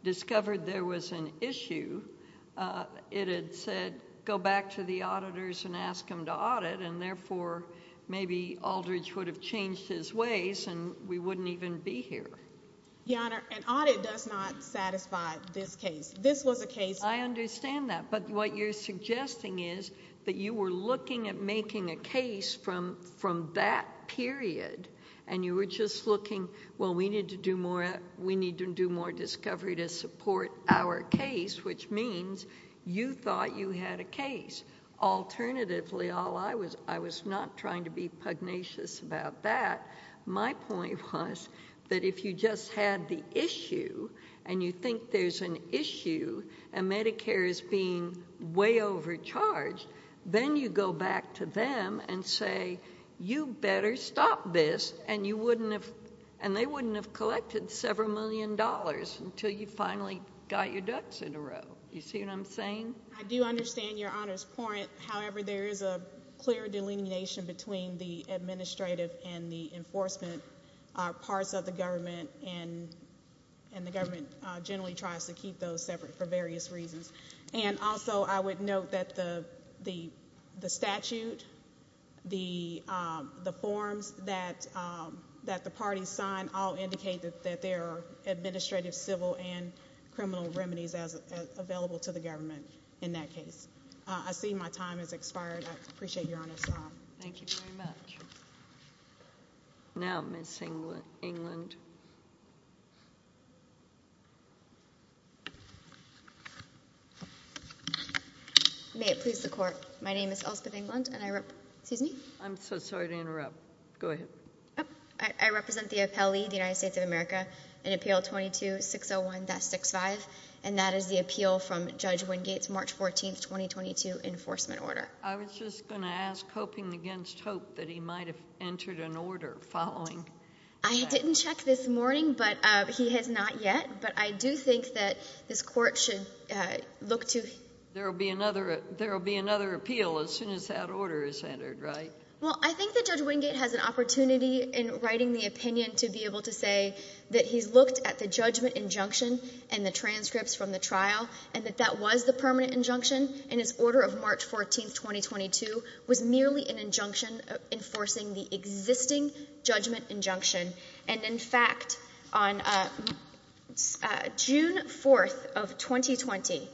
discovered there was an issue, it had said, go back to the auditors and ask them to audit, and therefore maybe Aldridge would have changed his ways and we wouldn't even be here. Your Honor, an audit does not satisfy this case. This was a case— I understand that, but what you're suggesting is that you were looking at making a case from that period and you were just looking, well, we need to do more discovery to support our case, which means you thought you had a case. Alternatively, I was not trying to be pugnacious about that. My point was that if you just had the issue and you think there's an issue and Medicare is being way overcharged, then you go back to them and say, you better stop this, and they wouldn't have collected several million dollars until you finally got your ducks in a row. You see what I'm saying? I do understand Your Honor's point. However, there is a clear delineation between the administrative and the enforcement parts of the government, and the government generally tries to keep those separate for various reasons. Also, I would note that the statute, the forms that the parties signed all indicated that there are administrative, civil, and criminal remedies available to the government in that case. I see my time has expired. I appreciate Your Honor's time. Thank you very much. Now Ms. Englund. May it please the Court. My name is Elizabeth Englund, and I represent the appellee, the United States of America, in Appeal 22-601-65, and that is the appeal from Judge Wingate's March 14, 2022, enforcement order. I was just going to ask, hoping against hope, that he might have entered an order following that. I didn't check this morning, but he has not yet. But I do think that this Court should look to him. There will be another appeal as soon as that order is entered, right? Well, I think that Judge Wingate has an opportunity in writing the opinion to be able to say that he's looked at the judgment injunction and the transcripts from the trial, and that that was the permanent injunction, and his order of March 14, 2022 was merely an injunction enforcing the existing judgment injunction. And in fact, on June 4 of 2020,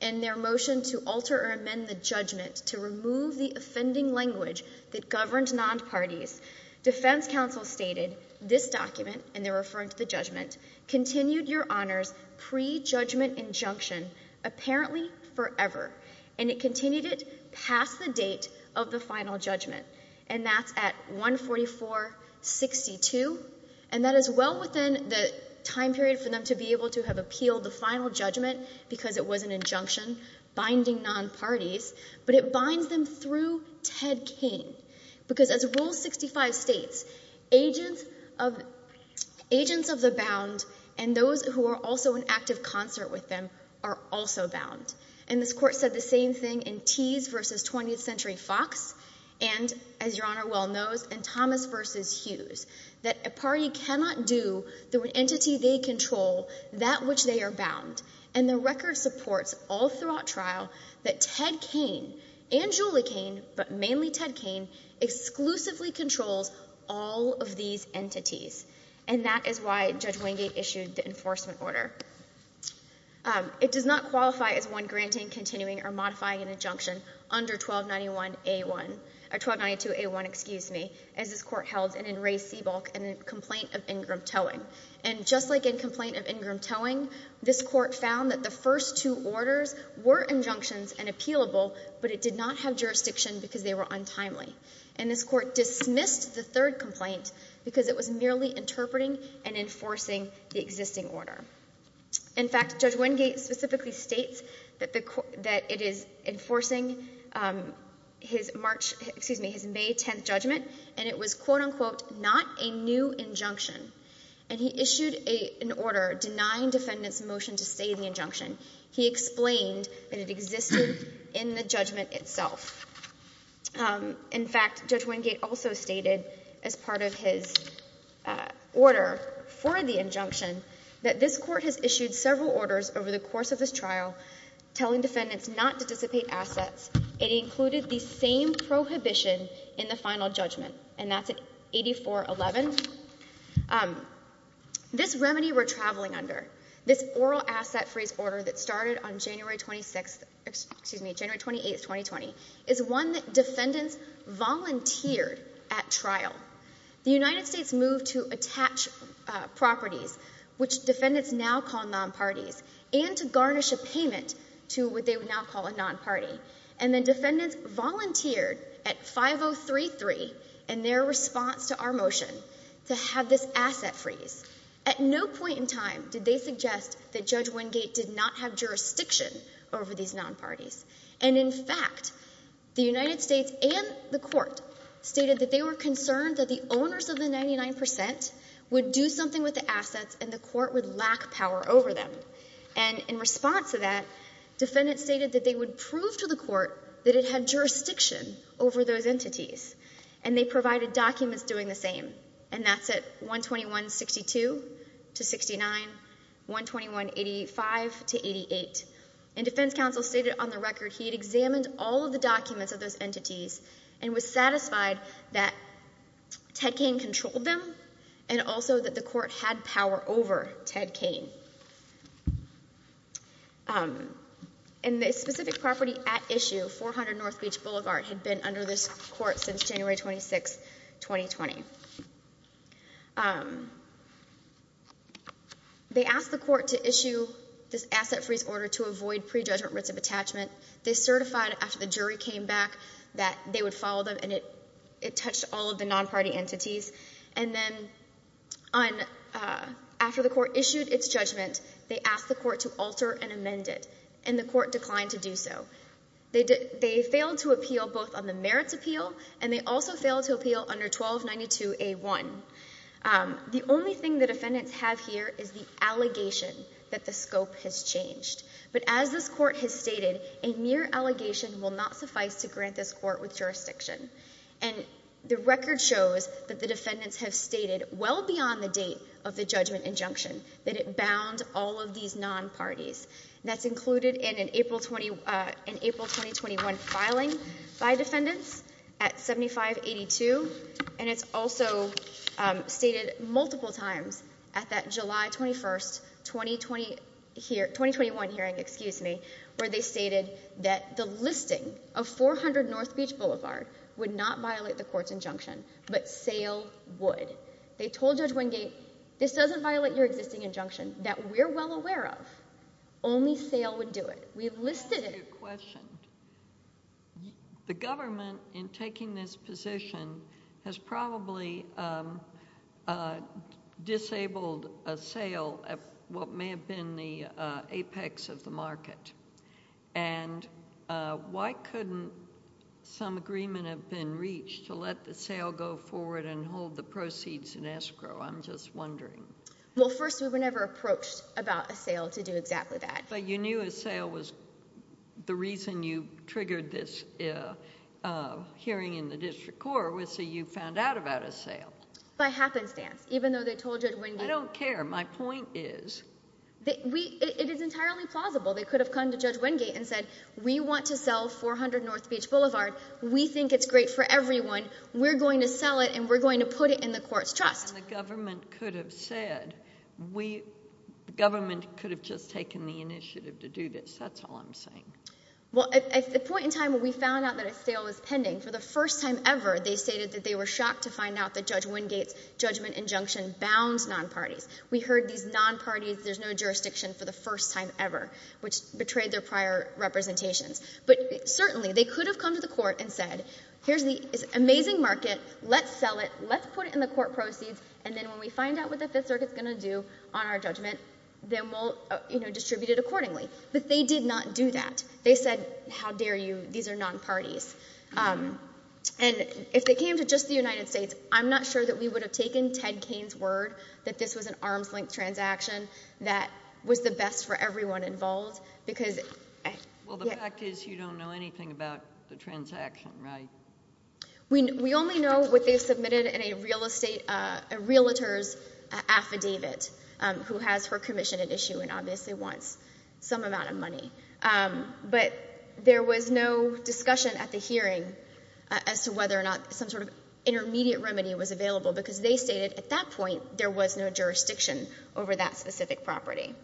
in their motion to alter or amend the judgment to remove the offending language that governed non-parties, defense counsel stated this document, and they're referring to the judgment, continued your Honor's pre-judgment injunction apparently forever, and it continued it past the date of the final judgment, and that's at 144-62, and that is well within the time period for them to be able to have appealed the final judgment because it was an injunction binding non-parties, but it binds them through Ted King because as Rule 65 states, agents of the bound and those who are also in active concert with them are also bound. And this Court said the same thing in Tease v. 20th Century Fox, and as your Honor well knows, and Thomas v. Hughes, that a party cannot do through an entity they control that which they are bound, and the record supports all throughout trial that Ted King and Julie King, but mainly Ted King, exclusively controls all of these entities, and that is why Judge Wingate issued the enforcement order. It does not qualify as one granting, continuing, or modifying an injunction under 1292-A1 as this Court held and in Ray Seabolk in a complaint of Ingram towing. And just like in complaint of Ingram towing, this Court found that the first two orders were injunctions and appealable, but it did not have jurisdiction because they were untimely. And this Court dismissed the third complaint because it was merely interpreting and enforcing the existing order. In fact, Judge Wingate specifically states that it is enforcing his May 10th judgment, and it was, quote-unquote, not a new injunction. And he issued an order denying defendants' motion to say the injunction. He explained that it existed in the judgment itself. In fact, Judge Wingate also stated as part of his order for the injunction that this Court has issued several orders over the course of this trial telling defendants not to dissipate assets. It included the same prohibition in the final judgment, and that's at 84-11. This remedy we're traveling under, this oral asset freeze order that started on January 28, 2020, is one that defendants volunteered at trial. The United States moved to attach properties, which defendants now call nonparties, and to garnish a payment to what they would now call a nonparty. And then defendants volunteered at 5033 in their response to our motion to have this asset freeze. At no point in time did they suggest that Judge Wingate did not have jurisdiction over these nonparties. And in fact, the United States and the Court stated that they were concerned that the owners of the 99 percent would do something with the assets and the Court would lack power over them. And in response to that, defendants stated that they would prove to the Court that it had jurisdiction over those entities. And they provided documents doing the same, and that's at 121-62 to 69, 121-85 to 88. And defense counsel stated on the record he had examined all of the documents of those entities and was satisfied that Ted Cain controlled them and also that the Court had power over Ted Cain. And the specific property at issue, 400 North Beach Boulevard, had been under this Court since January 26, 2020. They asked the Court to issue this asset freeze order to avoid prejudgment writs of attachment. They certified after the jury came back that they would follow them, and it touched all of the nonparty entities. And then after the Court issued its judgment, they asked the Court to alter and amend it, and the Court declined to do so. They failed to appeal both on the merits appeal, and they also failed to appeal under 1292-A1. The only thing the defendants have here is the allegation that the scope has changed. But as this Court has stated, a mere allegation will not suffice to grant this Court with jurisdiction. And the record shows that the defendants have stated well beyond the date of the judgment injunction that it bound all of these nonparties. That's included in an April 2021 filing by defendants at 7582, and it's also stated multiple times at that July 21, 2021 hearing, excuse me, where they stated that the listing of 400 North Beach Boulevard would not violate the Court's injunction, but sale would. They told Judge Wingate, this doesn't violate your existing injunction that we're well aware of. Only sale would do it. We have listed it. The government, in taking this position, has probably disabled a sale at what may have been the apex of the market. And why couldn't some agreement have been reached to let the sale go forward and hold the proceeds in escrow? I'm just wondering. Well, first, we were never approached about a sale to do exactly that. But you knew a sale was the reason you triggered this hearing in the district court was so you found out about a sale. By happenstance, even though they told Judge Wingate. I don't care. My point is. It is entirely plausible. They could have come to Judge Wingate and said, we want to sell 400 North Beach Boulevard. We think it's great for everyone. We're going to sell it, and we're going to put it in the Court's trust. That's what the government could have said. The government could have just taken the initiative to do this. That's all I'm saying. Well, at the point in time when we found out that a sale was pending, for the first time ever, they stated that they were shocked to find out that Judge Wingate's judgment injunction bounds non-parties. We heard these non-parties, there's no jurisdiction for the first time ever, which betrayed their prior representations. But certainly, they could have come to the Court and said, here's this amazing market. Let's sell it. Let's put it in the Court proceeds, and then when we find out what the Fifth Circuit is going to do on our judgment, then we'll distribute it accordingly. But they did not do that. They said, how dare you. These are non-parties. And if they came to just the United States, I'm not sure that we would have taken Ted Cain's word that this was an arms-length transaction that was the best for everyone involved. Well, the fact is you don't know anything about the transaction, right? We only know what they submitted in a real estate, a realtor's affidavit, who has her commission at issue and obviously wants some amount of money. But there was no discussion at the hearing as to whether or not some sort of intermediate remedy was available, because they stated at that point there was no jurisdiction over that specific property.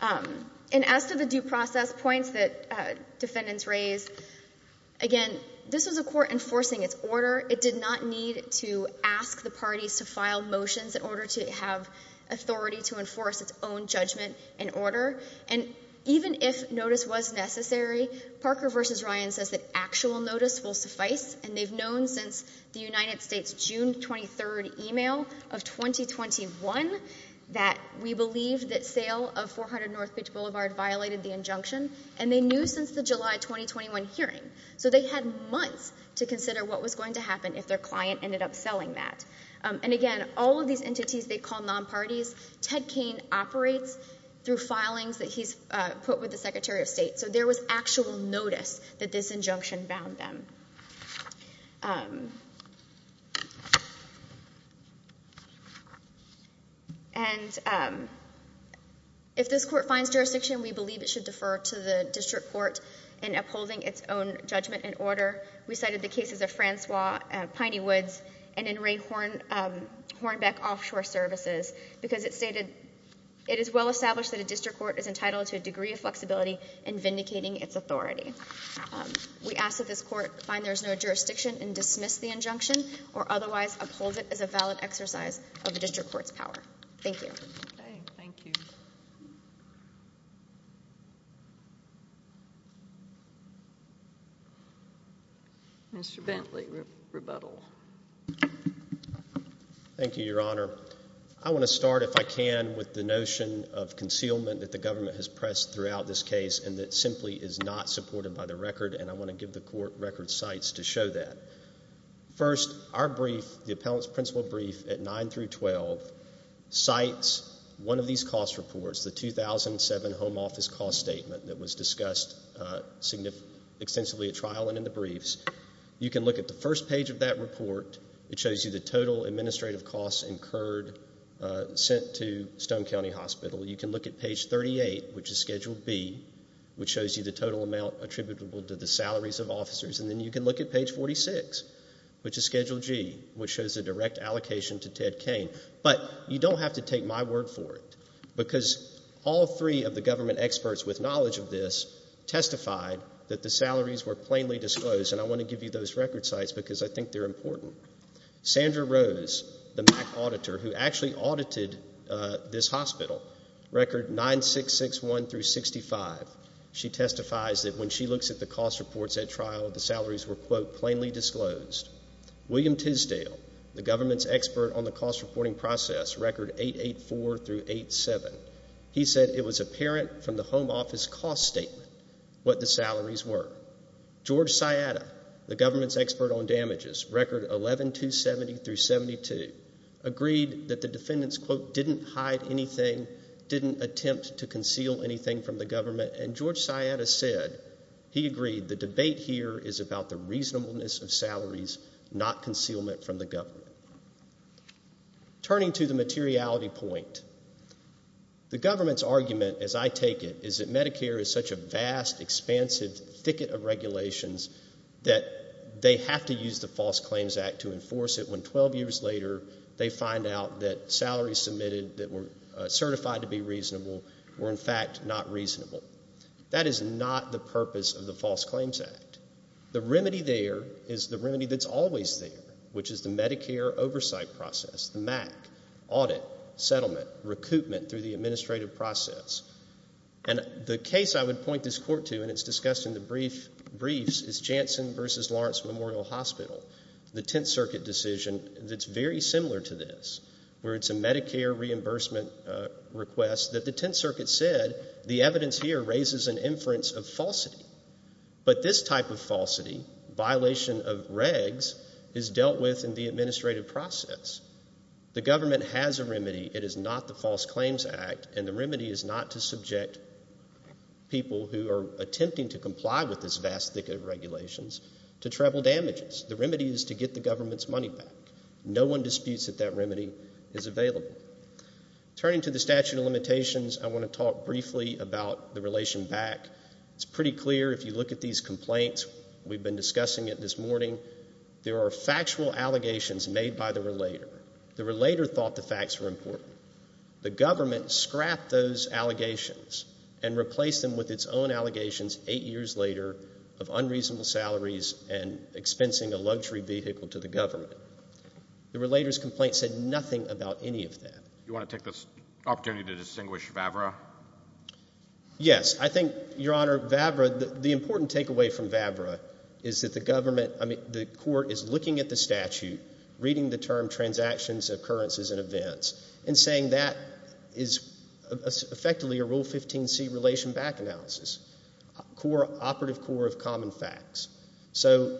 And as to the due process points that defendants raised, again, this was a court enforcing its order. It did not need to ask the parties to file motions in order to have authority to enforce its own judgment and order. And even if notice was necessary, Parker v. Ryan says that actual notice will suffice, and they've known since the United States' June 23rd email of 2021 that we believe that sale of 400 North Beach Boulevard violated the injunction, and they knew since the July 2021 hearing. So they had months to consider what was going to happen if their client ended up selling that. And, again, all of these entities they call non-parties, Ted Cain operates through filings that he's put with the Secretary of State. So there was actual notice that this injunction bound them. And if this court finds jurisdiction, we believe it should defer to the district court in upholding its own judgment and order. We cited the cases of Francois Piney Woods and in Ray Hornbeck Offshore Services, because it stated it is well established that a district court is entitled to a degree of flexibility in vindicating its authority. We ask that this court find there is no jurisdiction and dismiss the injunction, or otherwise uphold it as a valid exercise of the district court's power. Thank you. Thank you. Mr. Bentley, rebuttal. Thank you, Your Honor. I want to start, if I can, with the notion of concealment that the government has pressed throughout this case and that simply is not supported by the record, and I want to give the court record cites to show that. First, our brief, the Appellant's Principal Brief at 9 through 12, cites one of these cost reports, the 2007 Home Office Cost Statement that was discussed extensively at trial and in the briefs. You can look at the first page of that report. It shows you the total administrative costs incurred, sent to Stone County Hospital. You can look at page 38, which is Schedule B, which shows you the total amount attributable to the salaries of officers, and then you can look at page 46, which is Schedule G, which shows the direct allocation to Ted Cain. But you don't have to take my word for it, because all three of the government experts with knowledge of this testified that the salaries were plainly disclosed, and I want to give you those record cites because I think they're important. Sandra Rose, the MAC auditor who actually audited this hospital, record 9661 through 65, she testifies that when she looks at the cost reports at trial, the salaries were, quote, plainly disclosed. William Tisdale, the government's expert on the cost reporting process, record 884 through 87, he said it was apparent from the Home Office Cost Statement what the salaries were. George Sciatta, the government's expert on damages, record 11270 through 72, agreed that the defendants, quote, didn't hide anything, didn't attempt to conceal anything from the government, and George Sciatta said he agreed the debate here is about the reasonableness of salaries, not concealment from the government. Turning to the materiality point, the government's argument, as I take it, is that Medicare is such a vast, expansive thicket of regulations that they have to use the False Claims Act to enforce it when 12 years later, they find out that salaries submitted that were certified to be reasonable were, in fact, not reasonable. That is not the purpose of the False Claims Act. The remedy there is the remedy that's always there, which is the Medicare oversight process, the MAC, audit, settlement, recoupment through the administrative process. And the case I would point this court to, and it's discussed in the briefs, is Janssen v. Lawrence Memorial Hospital, the Tenth Circuit decision that's very similar to this, where it's a Medicare reimbursement request that the Tenth Circuit said the evidence here raises an inference of falsity. But this type of falsity, violation of regs, is dealt with in the administrative process. The government has a remedy. It is not the False Claims Act, and the remedy is not to subject people who are attempting to comply with this vast thicket of regulations to travel damages. The remedy is to get the government's money back. No one disputes that that remedy is available. Turning to the statute of limitations, I want to talk briefly about the relation back. It's pretty clear if you look at these complaints. We've been discussing it this morning. There are factual allegations made by the relator. The relator thought the facts were important. The government scrapped those allegations and replaced them with its own allegations eight years later of unreasonable salaries and expensing a luxury vehicle to the government. The relator's complaint said nothing about any of that. You want to take this opportunity to distinguish Vavra? Yes. I think, Your Honor, Vavra, the important takeaway from Vavra is that the government, I mean, the court is looking at the statute, reading the term transactions, occurrences, and events, and saying that is effectively a Rule 15c relation back analysis, operative core of common facts. So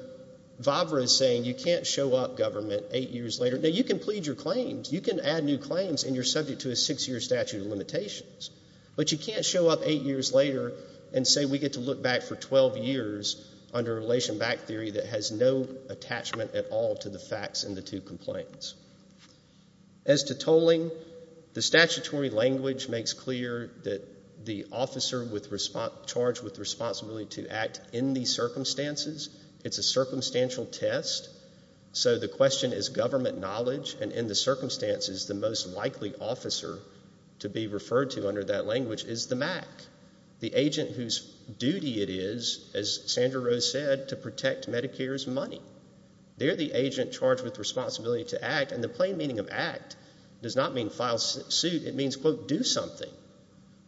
Vavra is saying you can't show up government eight years later. Now, you can plead your claims. You can add new claims, and you're subject to a six-year statute of limitations. But you can't show up eight years later and say we get to look back for 12 years under relation back theory that has no attachment at all to the facts in the two complaints. As to tolling, the statutory language makes clear that the officer charged with responsibility to act in these circumstances, it's a circumstantial test. So the question is government knowledge, and in the circumstances, the most likely officer to be referred to under that language is the MAC, the agent whose duty it is, as Sandra Rose said, to protect Medicare's money. They're the agent charged with responsibility to act. And the plain meaning of act does not mean file suit. It means, quote, do something.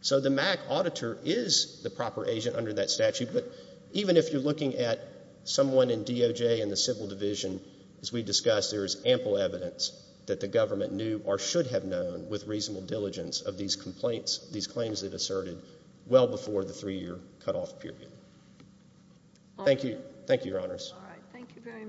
So the MAC auditor is the proper agent under that statute. But even if you're looking at someone in DOJ and the Civil Division, as we discussed, there is ample evidence that the government knew or should have known with reasonable diligence of these complaints, these claims they've asserted well before the three-year cutoff period. Thank you. Thank you, Your Honors. All right. Thank you very much.